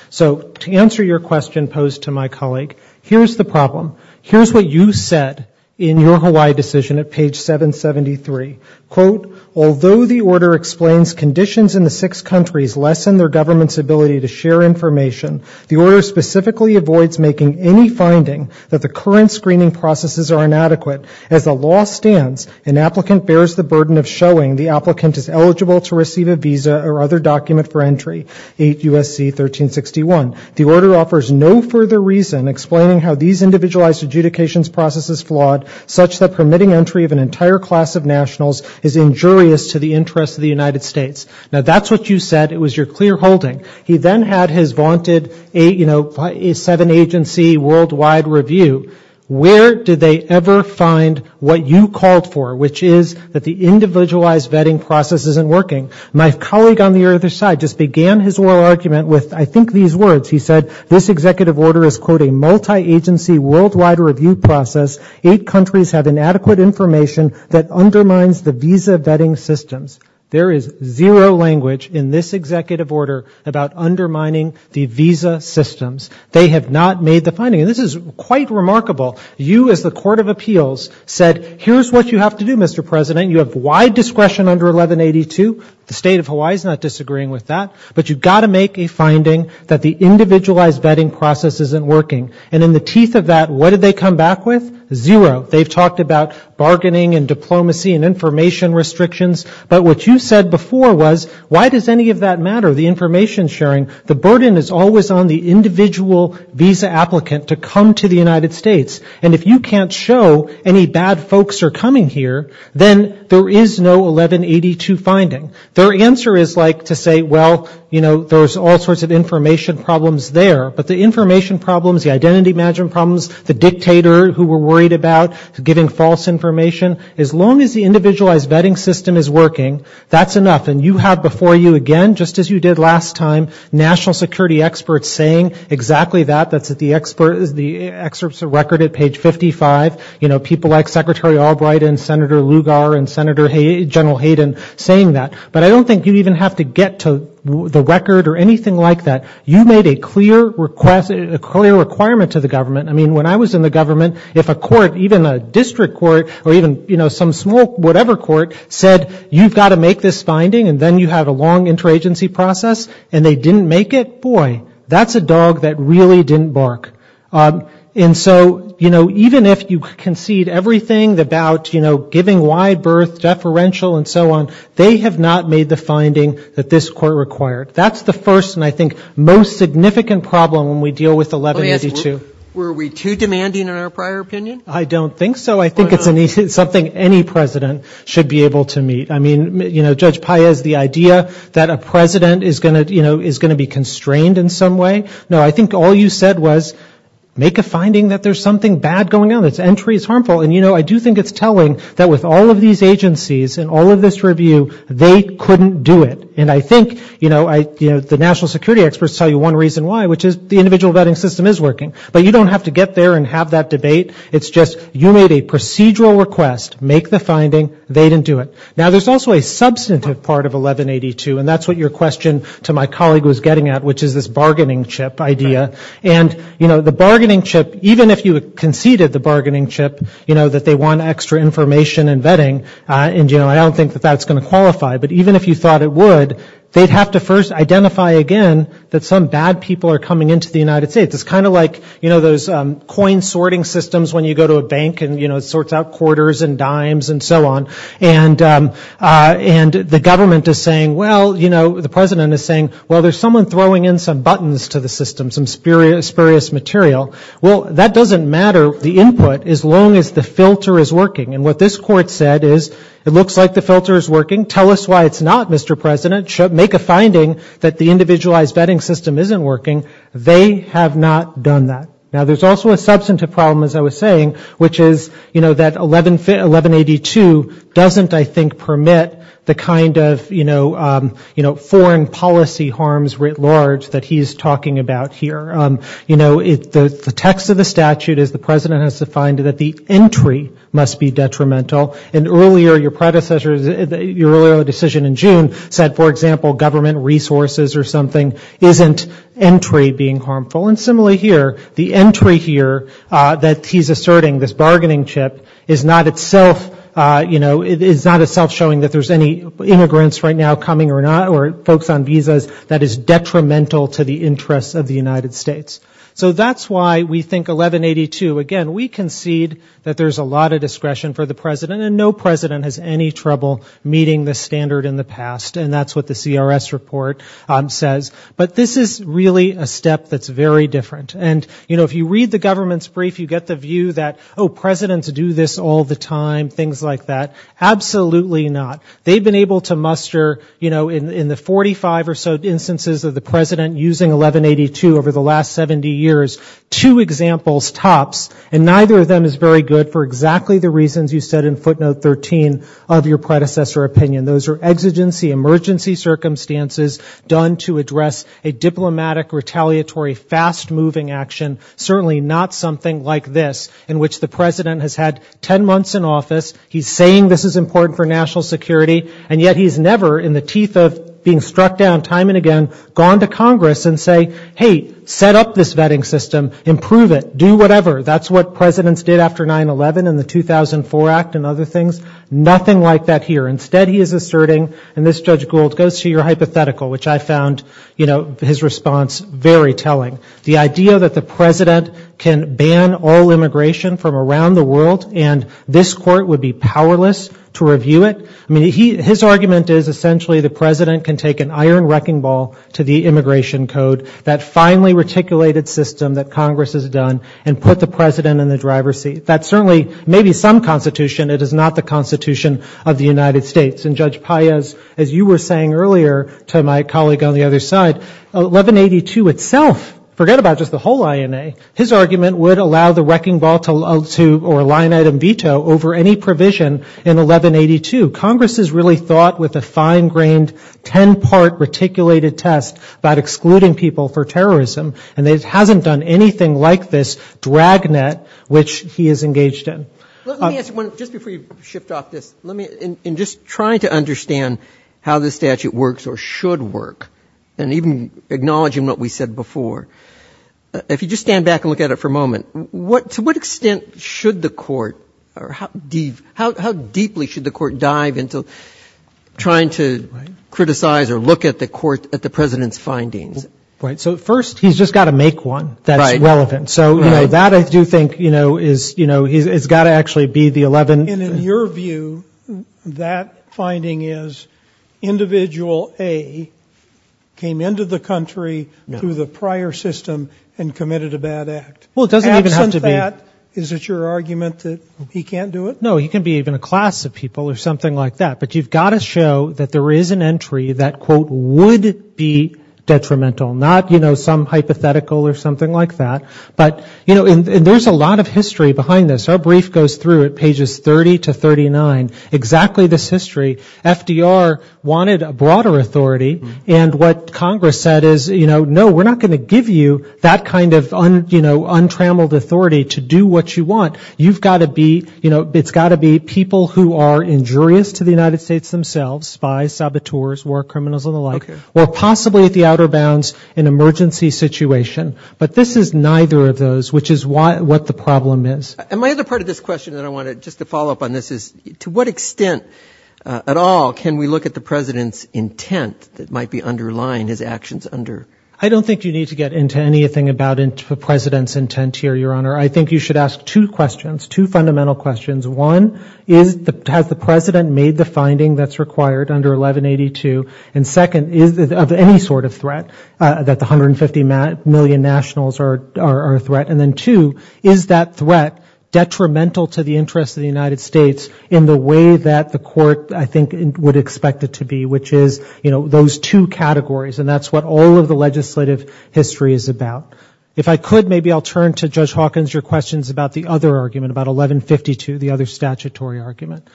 So to answer your question posed to my colleague, here's the problem. Here's what you said in your Hawaii decision at page 773. Quote, although the order explains conditions in the six countries lessen their government's ability to share information, the order specifically avoids making any finding that the current screening processes are inadequate. As the law stands, an applicant bears the burden of showing the applicant is eligible to receive a visa or other document for entry, 8 U.S.C. 1361. The order offers no further reason explaining how these individualized adjudications processes flawed such that permitting entry of an entire class of nationals is injurious to the interests of the United States. Now, that's what you said. It was your clear holding. He then had his vaunted, you know, seven agency worldwide review. Where did they ever find what you called for, which is that the individualized vetting process isn't working? My colleague on the other side just began his oral argument with, I think, these words. He said, this executive order is, quote, a multi-agency worldwide review process. Eight countries have inadequate information that undermines the visa vetting systems. There is zero language in this executive order about undermining the visa systems. They have not made the finding. And this is quite remarkable. You as the Court of Appeals said, here's what you have to do, Mr. President. You have wide discretion under 1182. The State of Hawaii is not disagreeing with that. But you've got to make a finding that the individualized vetting process isn't working. And in the teeth of that, what did they come back with? Zero. They've talked about bargaining and diplomacy and information restrictions. But what you said before was, why does any of that matter, the information sharing? The burden is always on the individual visa applicant to come to the United States. And if you can't show any bad folks are coming here, then there is no 1182 finding. Their answer is like to say, well, you know, there's all sorts of information problems there. But the information problems, the identity management problems, the dictator who we're worried about giving false information, as long as the individualized vetting system is working, that's enough. And you have before you again, just as you did last time, national security experts saying exactly that. That's at the excerpts of record at page 55. You know, people like Secretary Albright and Senator Lugar and Senator, General Hayden saying that. But I don't think you even have to get to the record or anything like that. You made a clear request, a clear requirement to the government. I mean, when I was in the government, if a court, even a district court or even, you know, some small whatever court said, you've got to make this finding and then you have a long interagency process and they didn't make it, boy, that's a dog that really didn't bark. And so, you know, even if you concede everything about, you know, giving wide berth, deferential and so on, they have not made the finding that this court required. That's the first and I think most significant problem when we deal with 1182. Let me ask, were we too demanding in our prior opinion? I don't think so. I think it's something any president should be able to meet. I mean, you know, Judge Paez, the idea that a president is going to, you know, is going to be constrained in some way, no, I think all you said was make a finding that there's something bad going on, that entry is harmful and, you know, I do think it's telling that with all of these agencies and all of this review, they couldn't do it. And I think, you know, the national security experts tell you one reason why, which is the individual vetting system is working, but you don't have to get there and have that debate. It's just you made a procedural request, make the finding, they didn't do it. Now, there's also a substantive part of 1182, and that's what your question to my colleague was getting at, which is this bargaining chip idea, and, you know, the bargaining chip, even if you conceded the bargaining chip, you know, that they want extra information and vetting, and, you know, I don't think that that's going to qualify, but even if you thought it would, they'd have to first identify again that some bad people are coming into the United States. It's kind of like, you know, those coin sorting systems when you go to a bank and, you know, and the government is saying, well, you know, the President is saying, well, there's someone throwing in some buttons to the system, some spurious material. Well, that doesn't matter, the input, as long as the filter is working. And what this Court said is, it looks like the filter is working. Tell us why it's not, Mr. President. Make a finding that the individualized vetting system isn't working. They have not done that. Now, there's also a substantive problem, as I was saying, which is, you know, that 1182 doesn't, I think, permit the kind of, you know, foreign policy harms writ large that he's talking about here. You know, the text of the statute is the President has defined that the entry must be detrimental. And earlier, your predecessors, your earlier decision in June said, for example, government resources or something isn't entry being harmful. And similarly here, the entry here that he's asserting, this bargaining chip, is not itself showing that there's any immigrants right now coming or folks on visas that is detrimental to the interests of the United States. So that's why we think 1182, again, we concede that there's a lot of discretion for the President, and no President has any trouble meeting this standard in the past. And that's what the CRS report says. But this is really a step that's very different. And, you know, if you read the government's brief, you get the view that, oh, Presidents do this all the time, and things like that. Absolutely not. They've been able to muster, you know, in the 45 or so instances of the President using 1182 over the last 70 years, two examples tops, and neither of them is very good for exactly the reasons you said in footnote 13 of your predecessor opinion. Those are exigency, emergency circumstances done to address a diplomatic, retaliatory, fast-moving action, certainly not something like this, in which the President has had ten months in office. He's saying this is important for national security, and yet he's never, in the teeth of being struck down time and again, gone to Congress and say, hey, set up this vetting system, improve it, do whatever. That's what Presidents did after 9-11 and the 2004 Act and other things. Nothing like that here. Instead, he is asserting, and this, Judge Gould, goes to your hypothetical, which I found, you know, his response very telling. The idea that the President can ban all immigration from around the world and this Court would be powerless to review it, I mean, his argument is essentially the President can take an iron wrecking ball to the Immigration Code, that finely reticulated system that Congress has done, and put the President in the driver's seat. That certainly may be some Constitution. It is not the Constitution of the United States. And Judge Paez, as you were saying earlier to my colleague on the other side, 1182 itself, forget about just the whole INA, his argument would allow the wrecking ball or line item veto over any provision in 1182. Congress has really thought with a fine-grained, ten-part reticulated test about excluding people for terrorism, and it hasn't done anything like this dragnet, which he is engaged in. Let me ask you, just before you shift off this, in just trying to understand how this statute works or should work, and even acknowledging what we said before, if you just stand back and look at it for a moment, to what extent should the Court, or how deeply should the Court dive into trying to criticize or look at the President's findings? Right. So first, he's just got to make one that's relevant. So that, I do think, has got to actually be the 11... And in your view, that finding is individual A came into the country through the prior system and committed a bad act. Absent that, is it your argument that he can't do it? No, he can be even a class of people or something like that. But you've got to show that there is an entry that, quote, would be detrimental. Not, you know, some hypothetical or something like that. But, you know, and there's a lot of history behind this. Our brief goes through it, pages 30 to 39, exactly this history. FDR wanted a broader authority, and what Congress said is, you know, no, we're not going to give you that kind of, you know, the United States themselves, spies, saboteurs, war criminals and the like, or possibly at the outer bounds an emergency situation. But this is neither of those, which is what the problem is. And my other part of this question that I wanted, just to follow up on this, is to what extent at all can we look at the President's intent that might be underlying his actions under... I don't think you need to get into anything about the President's intent here, Your Honor. I think you should ask two questions, two fundamental questions. One, has the President made the finding that's required under 1182? And second, is it of any sort of threat that the 150 million nationals are a threat? And then two, is that threat detrimental to the interest of the United States in the way that the Court, I think, would expect it to be, which is, you know, those two categories. And that's what all of the legislative history is about. If I could, maybe I'll turn to Judge Hawkins, your questions about the other argument, about 1152, the other statutory argument.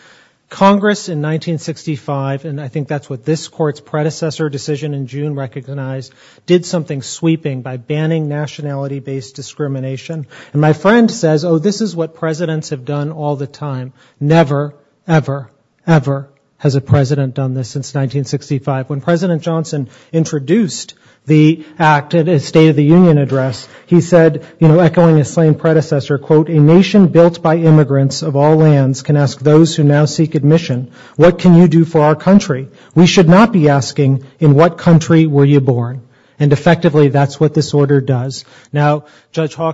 Congress in 1965, and I think that's what this Court's predecessor decision in June recognized, did something sweeping by banning nationality-based discrimination. And my friend says, oh, this is what Presidents have done all the time. Never, ever, ever has a President done this since 1965. When President Johnson introduced the act at his State of the Union address, he said, you know, echoing his same predecessor, quote, a nation built by immigrants of all lands can ask those who now seek admission, what can you do for our country? We should not be asking, in what country were you born? And effectively, that's what this order does. You know, the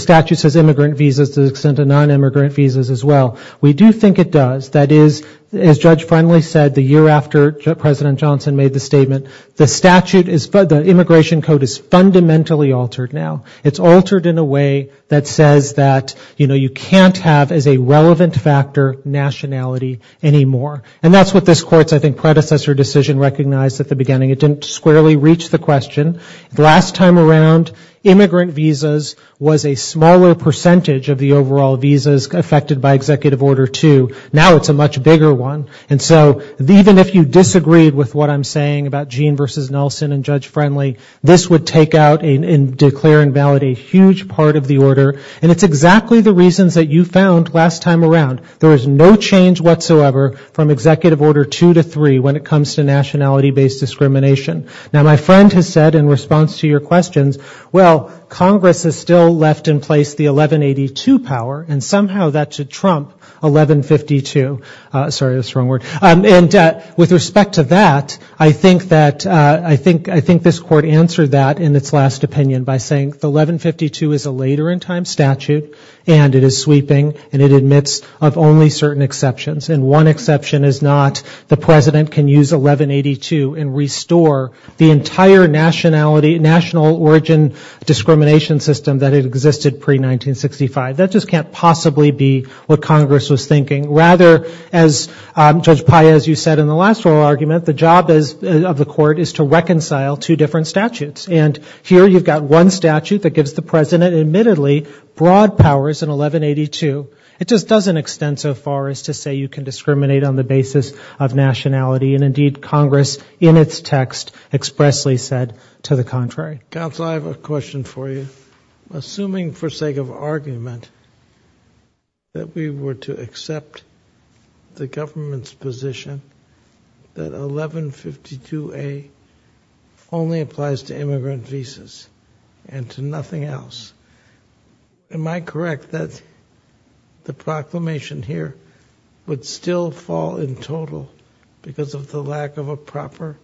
statute says immigrant visas to the extent of nonimmigrant visas as well. We do think it does. That is, as Judge Friendly said, the year after President Johnson made the statement, the statute, the immigration code is fundamentally altered now. It's altered in a way that says that, you know, you can't have, as a relevant factor, nationality anymore. And that's what this Court's, I think, predecessor decision recognized at the beginning. It didn't squarely reach the question. Last time around, immigrant visas was a smaller percentage of the overall visas affected by Executive Order 2. Now it's a much bigger one. And so even if you disagreed with what I'm saying about Gene v. Nelson and Judge Friendly, this would take out and declare invalid a huge part of the order. And it's exactly the reasons that you found last time around. There is no change whatsoever from Executive Order 2 to 3 when it comes to nationality-based discrimination. Now my friend has said in response to your questions, well, Congress has still left in place the 1182 power, and somehow that should trump 1152. Sorry, that's the wrong word. And with respect to that, I think that, I think this Court answered that in its last opinion by saying 1152 is a later-in-time statute, and it is sweeping, and it admits of only certain exceptions, and one exception is not the President can use 1182 and restore the entire nationality, national origin discrimination system that existed pre-1965. That just can't possibly be what Congress was thinking. Rather, as Judge Paez, you said in the last oral argument, the job of the Court is to reconcile two different statutes. And here you've got one statute that gives the President admittedly broad powers in 1182. It just doesn't extend so far as to say you can discriminate on the basis of nationality. And indeed, Congress, in its text, expressly said to the contrary. Counsel, I have a question for you. Assuming, for sake of argument, that we were to accept the government's position that 1152A only applies to immigrant visas and to nothing else, am I correct that the proclamation here would still fall in total because of the lack of a proper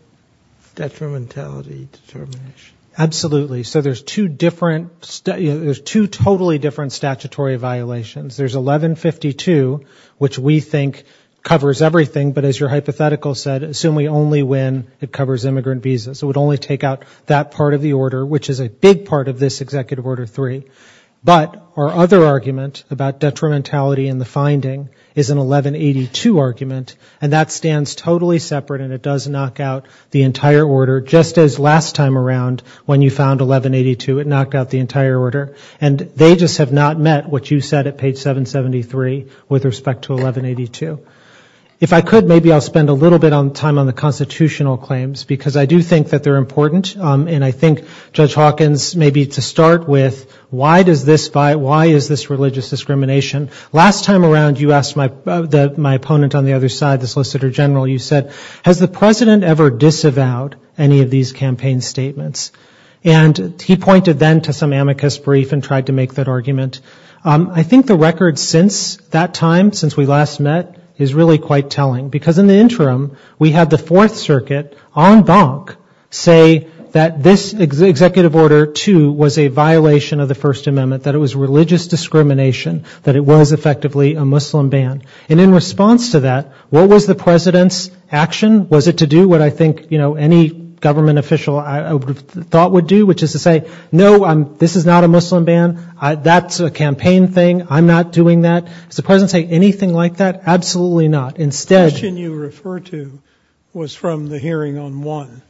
detrimentality determination? Absolutely. So there's two different, there's two totally different statutory violations. There's 1152, which we think covers everything, but as your hypothetical said, assuming only when it covers immigrant visas. It would only take out that part of the order, which is a big part of this Executive Order 3. But our other argument about detrimentality in the finding is an 1182 argument, and that stands totally separate, and it does knock out the entire order, just as last time around when you found 1182, it knocked out the entire order. And they just have not met what you said at page 773 with respect to 1182. If I could, maybe I'll spend a little bit of time on the constitutional claims, because I do think that they're important, and I think, Judge Hawkins, maybe to start with, why does this, why is this religious discrimination? Last time around, you asked my opponent on the other side, the Solicitor General, you said, has the President ever disavowed any of these campaign statements? And he pointed then to some amicus brief and tried to make that argument. I think the record since that time, since we last met, is really quite telling, because in the interim, we had the Fourth Circuit, en banc, say that this Executive Order 2 was a violation of the First Amendment, that it was religious discrimination, that it was effectively a Muslim ban. And in response to that, what was the President's action? Was it to do what I think, you know, any government official thought would do, which is to say, no, this is not a Muslim ban, that's a campaign thing, I'm not doing that? Did the President say anything like that? Absolutely not. Instead... The question you refer to was from the hearing on 1,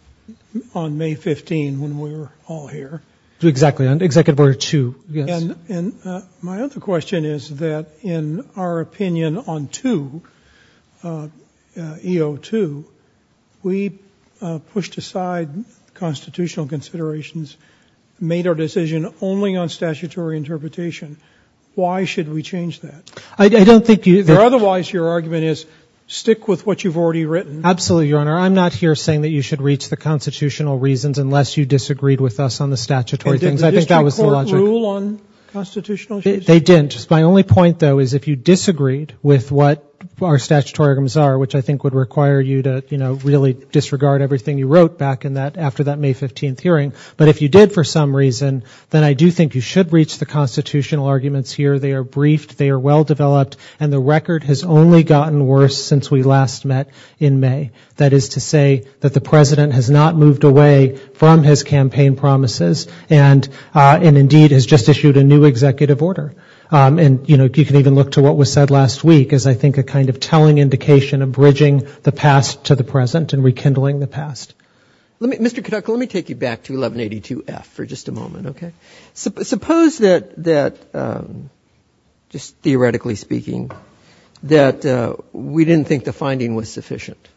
on May 15, when we were all here. Exactly, on Executive Order 2, yes. And my other question is that in our opinion on 2, E02, we pushed aside constitutional considerations and made our decision only on statutory interpretation. Why should we change that? I don't think you... Otherwise, your argument is, stick with what you've already written. Absolutely, Your Honor. I'm not here saying that you should reach the constitutional reasons unless you disagreed with us on the statutory things. I think that was the logic. Did they rule on constitutional changes? They didn't. My only point, though, is if you disagreed with what our statutory arguments are, which I think would require you to, you know, really disregard everything you wrote back in that, after that May 15 hearing, but if you did for some reason, then I do think you should reach the constitutional arguments here. They are briefed, they are well-developed, and the record has only gotten worse since we last met in May. That is to say that the President has not moved away from his campaign promises, and indeed has just issued a new executive order. And, you know, you can even look to what was said last week as I think a kind of telling indication of bridging the past to the present and rekindling the past. Mr. Katucka, let me take you back to 1182F for just a moment, okay? Suppose that, just theoretically speaking, that we didn't think the finding was sufficient.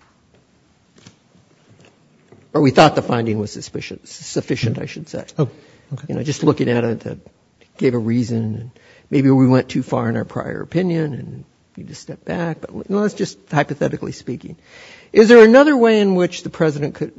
Or we thought the finding was sufficient, I should say. You know, just looking at it to give a reason. Maybe we went too far in our prior opinion and need to step back. That's just hypothetically speaking. Is there another way in which the President could,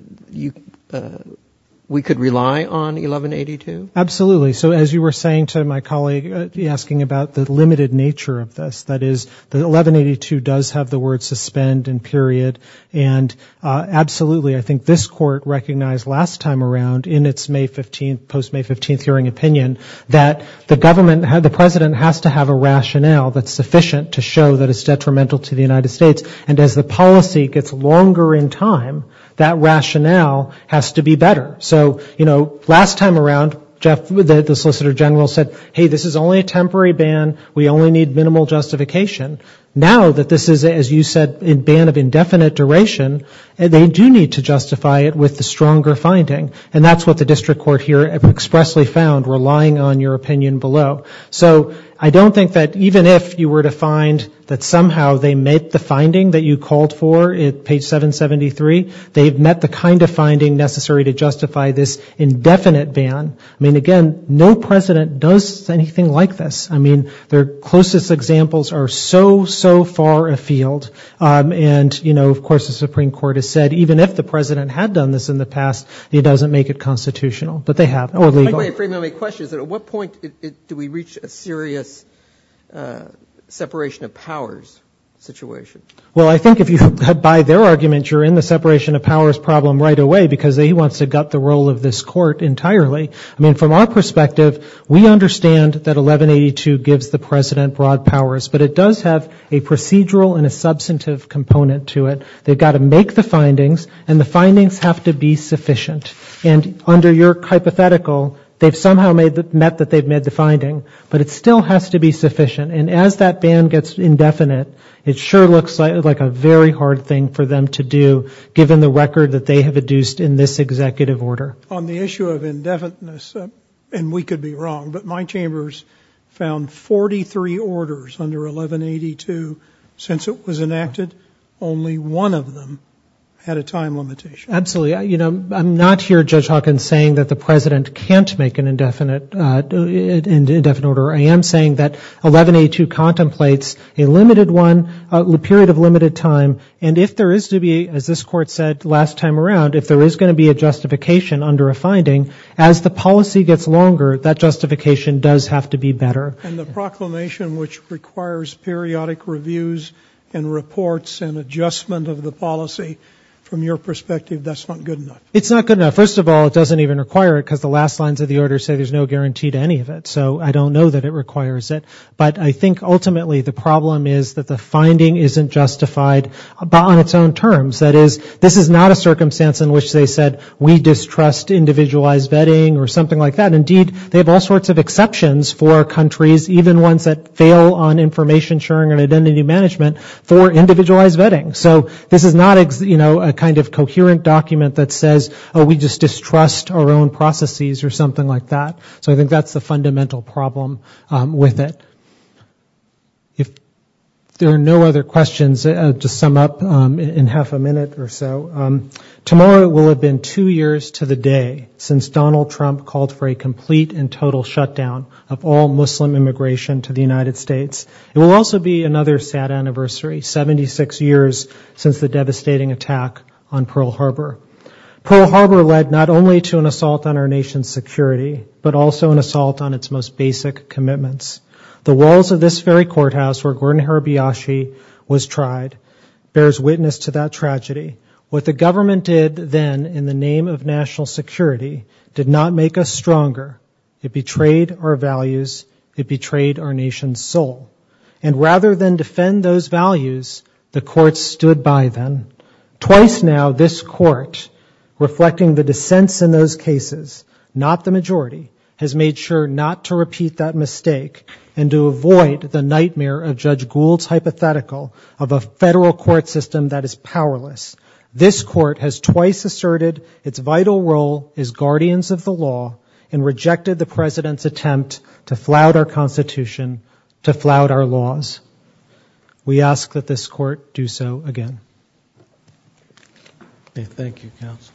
we could rely on 1182? Absolutely. So as you were saying to my colleague, asking about the limited nature of this, that is, 1182 does have the words suspend and period. And absolutely, I think this Court recognized last time around in its May 15th, post-May 15th hearing opinion, that the government, the President has to have a rationale that's sufficient to show that it's detrimental to the United States. And as the policy gets longer in time, that rationale has to be better. So, you know, last time around, Jeff, the Solicitor General said, hey, this is only a temporary ban. We only need minimal justification. Now that this is, as you said, a ban of indefinite duration, they do need to justify it with the stronger finding. And that's what the District Court here expressly found, relying on your opinion below. So I don't think that even if you were to find that somehow they met the finding that you called for at page 773, they've met the kind of finding necessary to justify this indefinite ban. I mean, again, no President does anything like this. I mean, their closest examples are so, so far afield. And, you know, of course, the Supreme Court has said, even if the President had done this in the past, it doesn't make it constitutional. But they have. At what point do we reach a serious separation of powers situation? Well, I think if you buy their argument, you're in the separation of powers problem right away, because he wants to gut the role of this Court entirely. I mean, from our perspective, we understand that 1182 gives the President broad powers, but it does have a procedural and a substantive component to it. They've got to make the findings, and the findings have to be sufficient. And under your hypothetical, they've somehow met that they've met the finding, but it still has to be sufficient. And as that ban gets indefinite, it sure looks like a very hard thing for them to do, given the record that they have induced in this executive order. On the issue of indefiniteness, and we could be wrong, but my chambers found 43 orders under 1182. Since it was enacted, only one of them had a time limitation. Absolutely. You know, I'm not here, Judge Hawkins, saying that the President can't make an indefinite order. I am saying that 1182 contemplates a limited one, a period of limited time, and if there is to be, as this Court said last time around, if there is going to be a justification under a finding, as the policy gets longer, that justification does have to be better. And the proclamation which requires periodic reviews and reports and adjustment of the policy, from your perspective, that's not good enough. It's not good enough. First of all, it doesn't even require it, because the last lines of the order say there's no guarantee to any of it. So I don't know that it requires it. But I think ultimately the problem is that the finding isn't justified on its own terms. That is, this is not a circumstance in which they said we distrust individualized vetting or something like that. Indeed, they have all sorts of exceptions for countries, even ones that fail on information sharing and identity management, for individualized vetting. So this is not a kind of coherent document that says we just distrust our own processes or something like that. So I think that's the fundamental problem with it. If there are no other questions, I'll just sum up in half a minute or so. Tomorrow will have been two years to the day since Donald Trump called for a complete and total shutdown of all Muslim immigration to the United States. It will also be another sad anniversary, 76 years since the devastating attack on Pearl Harbor. Pearl Harbor led not only to an assault on our nation's security, but also an assault on its most basic commitments. The walls of this very courthouse where Gordon Hirabayashi was tried bears witness to that tragedy. What the government did then in the name of national security did not make us stronger. It betrayed our values, it betrayed our nation's soul. And rather than defend those values, the courts stood by them. Twice now, this court, reflecting the dissents in those cases, not the majority, has made sure not to repeat that mistake and to avoid the nightmare of Judge Gould's hypothetical of a federal court system that is powerless. This court has twice asserted its vital role as guardians of the law and rejected the President's attempt to flout our Constitution, to flout our laws. We ask that this court do so again. Thank you, counsel.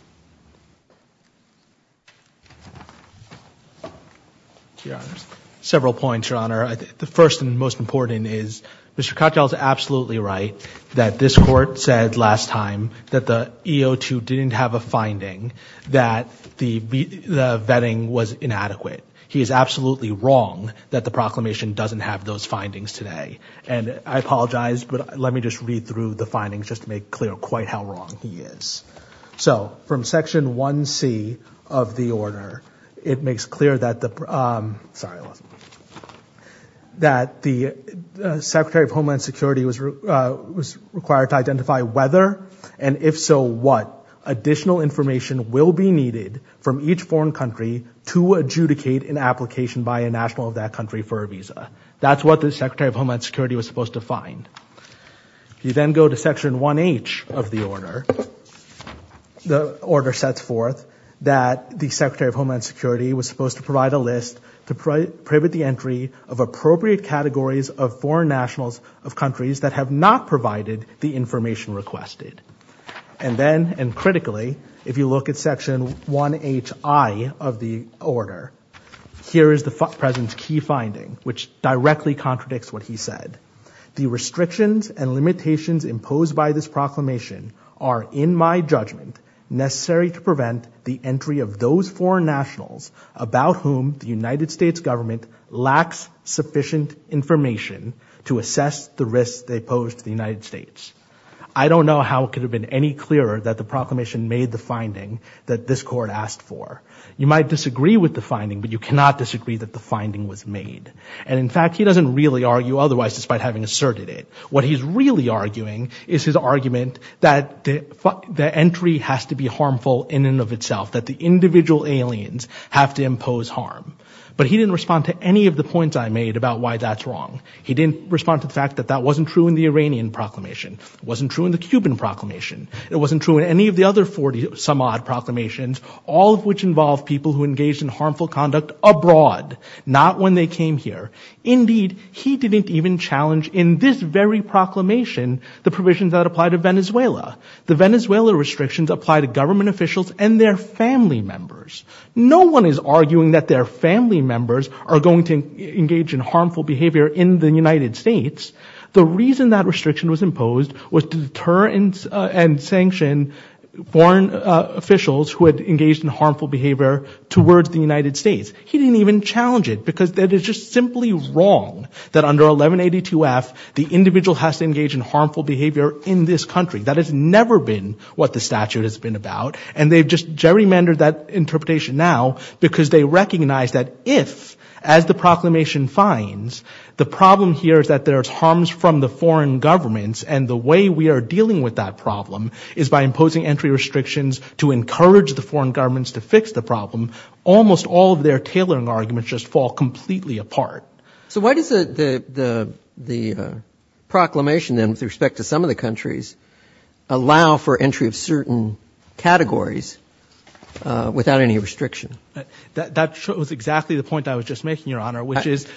Several points, Your Honor. The first and most important is Mr. Cottrell is absolutely right that this court said last time that the E02 didn't have a finding, that the vetting was inadequate. He is absolutely wrong that the proclamation doesn't have those findings today. And I apologize, but let me just read through the findings just to make clear quite how wrong he is. So from Section 1C of the order, it makes clear that the Secretary of Homeland Security was required to identify whether, and if so what, additional information will be needed from each foreign country to adjudicate an application by a national of that country for a visa. That's what the Secretary of Homeland Security was supposed to find. If you then go to Section 1H of the order, the order sets forth that the Secretary of Homeland Security was supposed to provide a list to private the entry of appropriate categories of foreign nationals of countries that have not provided the information requested. And then, and critically, if you look at Section 1HI of the order, here is the President's key finding, which directly contradicts what he said. The restrictions and limitations imposed by this proclamation are, in my judgment, necessary to prevent the entry of those foreign nationals about whom the United States government lacks sufficient information to assess the risks they pose to the United States. I don't know how it could have been any clearer that the proclamation made the finding that this court asked for. You might disagree with the finding, but you cannot disagree that the finding was made. And in fact, he doesn't really argue otherwise, despite having asserted it. What he's really arguing is his argument that the entry has to be harmful in and of itself, that the individual aliens have to impose harm. But he didn't respond to any of the points I made about why that's wrong. He didn't respond to the fact that that wasn't true in the Iranian proclamation, it wasn't true in the Cuban proclamation, it wasn't true in any of the other 40-some-odd proclamations, all of which involved people who engaged in harmful conduct abroad, not when they came here. Indeed, he didn't even challenge in this very proclamation the provisions that apply to Venezuela. The Venezuela restrictions apply to government officials and their family members. No one is arguing that their family members are going to engage in harmful behavior in the United States. The reason that restriction was imposed was to deter and sanction foreign officials who had engaged in harmful behavior towards the United States. He didn't even challenge it, because it is just simply wrong that under 1182F, the individual has to engage in harmful behavior in this country. That has never been what the statute has been about, and they've just gerrymandered that interpretation now, because they recognize that if, as the proclamation finds, the problem here is that there's harms from the foreign governments, and the way we are dealing with that problem is by imposing entry restrictions to encourage the foreign governments to fix the problem. Almost all of their tailoring arguments just fall completely apart. So why does the proclamation, then, with respect to some of the countries, allow for entry of certain categories without any restriction? That was exactly the point I was just making, Your Honor, which is... to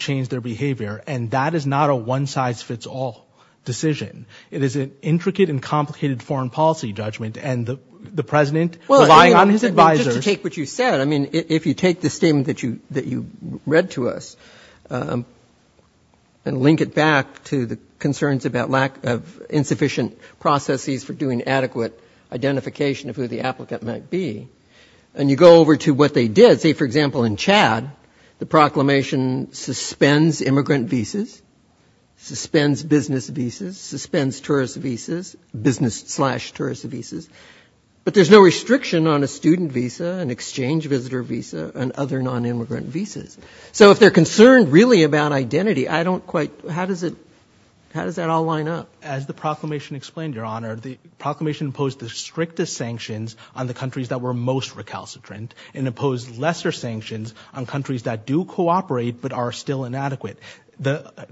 change their behavior, and that is not a one-size-fits-all decision. It is an intricate and complicated foreign policy judgment, and the President, relying on his advisers... Well, just to take what you said, I mean, if you take the statement that you read to us and link it back to the concerns about lack of insufficient processes for doing adequate identification of who the applicant might be, and you go over to what they did, say, for example, in Chad, the proclamation suspends immigrant visas, suspends business visas, suspends tourist visas, business-slash-tourist visas, but there's no restriction on a student visa, an exchange visitor visa, and other non-immigrant visas. So if they're concerned really about identity, I don't quite... how does that all line up? Well, as the proclamation explained, Your Honor, the proclamation imposed the strictest sanctions on the countries that were most recalcitrant, and imposed lesser sanctions on countries that do cooperate but are still inadequate.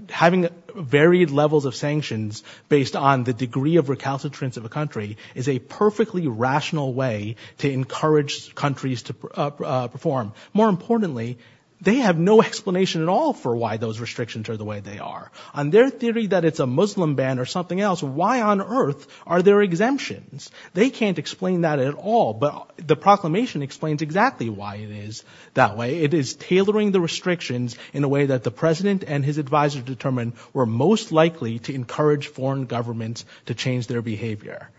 Having varied levels of sanctions based on the degree of recalcitrance of a country is a perfectly rational way to encourage countries to perform. More importantly, they have no explanation at all for why those restrictions are the way they are. On their theory that it's a Muslim ban or something else, why on earth are there exemptions? They can't explain that at all, but the proclamation explains exactly why it is that way. It is tailoring the restrictions in a way that the President and his advisor determined were most likely to encourage foreign governments to change their behavior.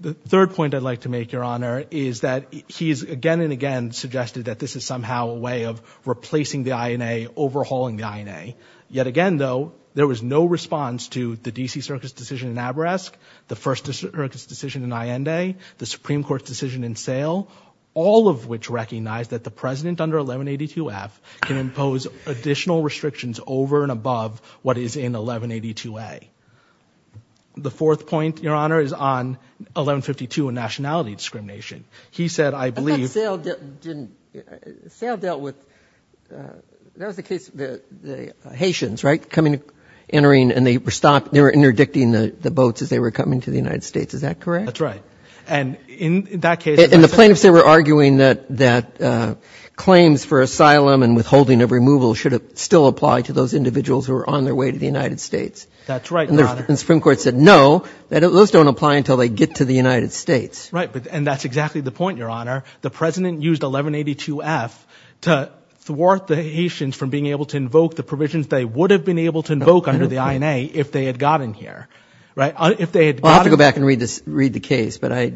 The third point I'd like to make, Your Honor, is that he's again and again suggested that this is somehow a way of replacing the INA, overhauling the INA. Yet again, though, there was no response to the D.C. Circus decision in Aberesk, the first Circus decision in Allende, the Supreme Court's decision in Sale, all of which recognized that the President under 1182F can impose additional restrictions over and above what is in 1182A. The fourth point, Your Honor, is on 1152 and nationality discrimination. He said, I believe... I thought Sale dealt with, that was the case of the Haitians, right, coming and entering and they were interdicting the boats as they were coming to the United States, is that correct? That's right, and in that case... And the plaintiffs, they were arguing that claims for asylum and withholding of removal should still apply to those individuals who were on their way to the United States. That's right, Your Honor. And the Supreme Court said, no, those don't apply until they get to the United States. Right, and that's exactly the point, Your Honor. The President used 1182F to thwart the Haitians from being able to invoke the provisions they would have been able to invoke under the INA if they had gotten here, right? I'll have to go back and read the case, but I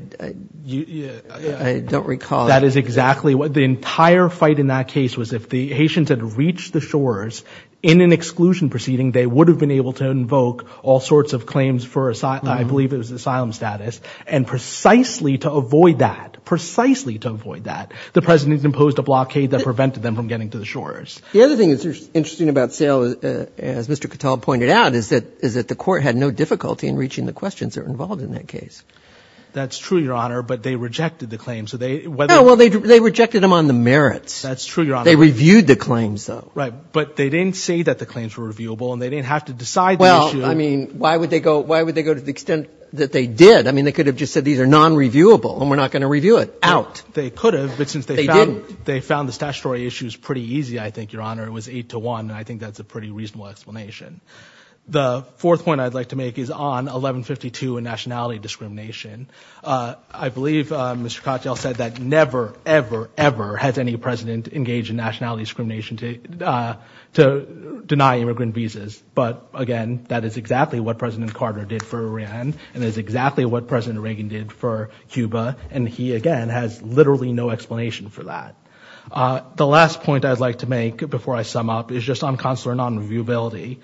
don't recall... That is exactly... The entire fight in that case was if the Haitians had reached the shores in an exclusion proceeding, they would have been able to invoke all sorts of claims for, I believe it was asylum status, and precisely to avoid that, precisely to avoid that, the President imposed a blockade that prevented them from getting to the shores. The other thing that's interesting about Sale, as Mr. Cattell pointed out, is that the court had no difficulty in reaching the questions that were involved in that case. That's true, Your Honor, but they rejected the claims. Well, they rejected them on the merits. They reviewed the claims, though. Right, but they didn't say that the claims were reviewable, and they didn't have to decide the issue. Well, I mean, why would they go to the extent that they did? I mean, they could have just said these are non-reviewable, and we're not going to review it. Out. They could have, but since they found the statutory issues pretty easy, I think, Your Honor, it was eight to one, and I think that's a pretty reasonable explanation. The fourth point I'd like to make is on 1152 and nationality discrimination. I believe Mr. Cattell said that never, ever, ever has any President engaged in nationality discrimination to deny immigrant visas, but again, that is exactly what President Carter did for Iran, and that is exactly what President Reagan did for Cuba, and he, again, has literally no explanation for that. The last point I'd like to make before I sum up is just on consular non-reviewability.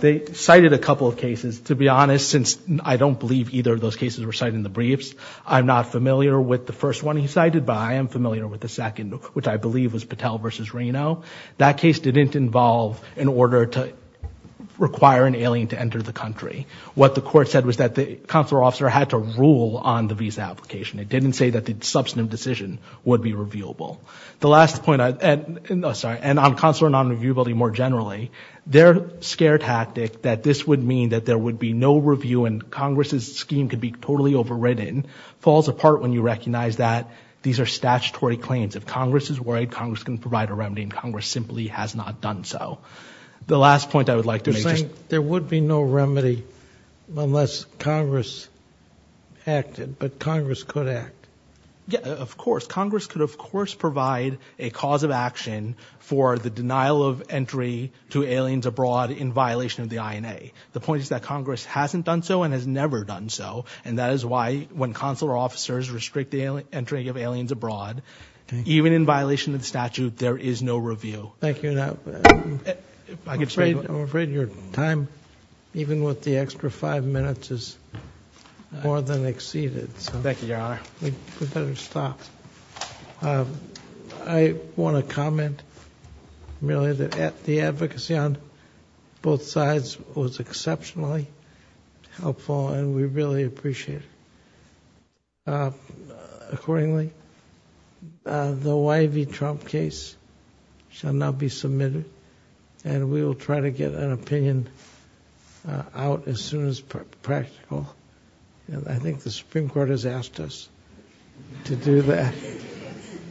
They cited a couple of cases. To be honest, since I don't believe either of those cases were cited in the briefs, I'm not familiar with the first one he cited, but I am familiar with the second, which I believe was Cattell v. Reno. That case didn't involve an order to require an alien to enter the country. What the court said was that the consular officer had to rule on the visa application. It didn't say that the substantive decision would be reviewable. And on consular non-reviewability more generally, their scare tactic that this would mean that there would be no review and Congress's scheme could be totally overridden falls apart when you recognize that these are statutory claims. If Congress is worried, Congress can provide a remedy, and Congress simply has not done so. The last point I would like to make is just... You're saying there would be no remedy unless Congress acted, but Congress could act? Yeah, of course. Congress could, of course, provide a cause of action for the denial of entry to aliens abroad in violation of the INA. The point is that Congress hasn't done so and has never done so, and that is why when consular officers restrict the entry of aliens abroad, even in violation of the statute, there is no review. Thank you. I'm afraid your time, even with the extra five minutes, is more than exceeded. Thank you, Your Honor. I want to comment merely that the advocacy on both sides was exceptionally helpful, and we really appreciate it. Accordingly, the Y.V. Trump case shall now be submitted, and we will try to get an opinion out as soon as practical. I think the Supreme Court has asked us to do that,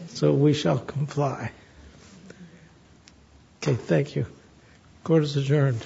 so we shall comply. Okay, thank you. Court is adjourned. Thank you.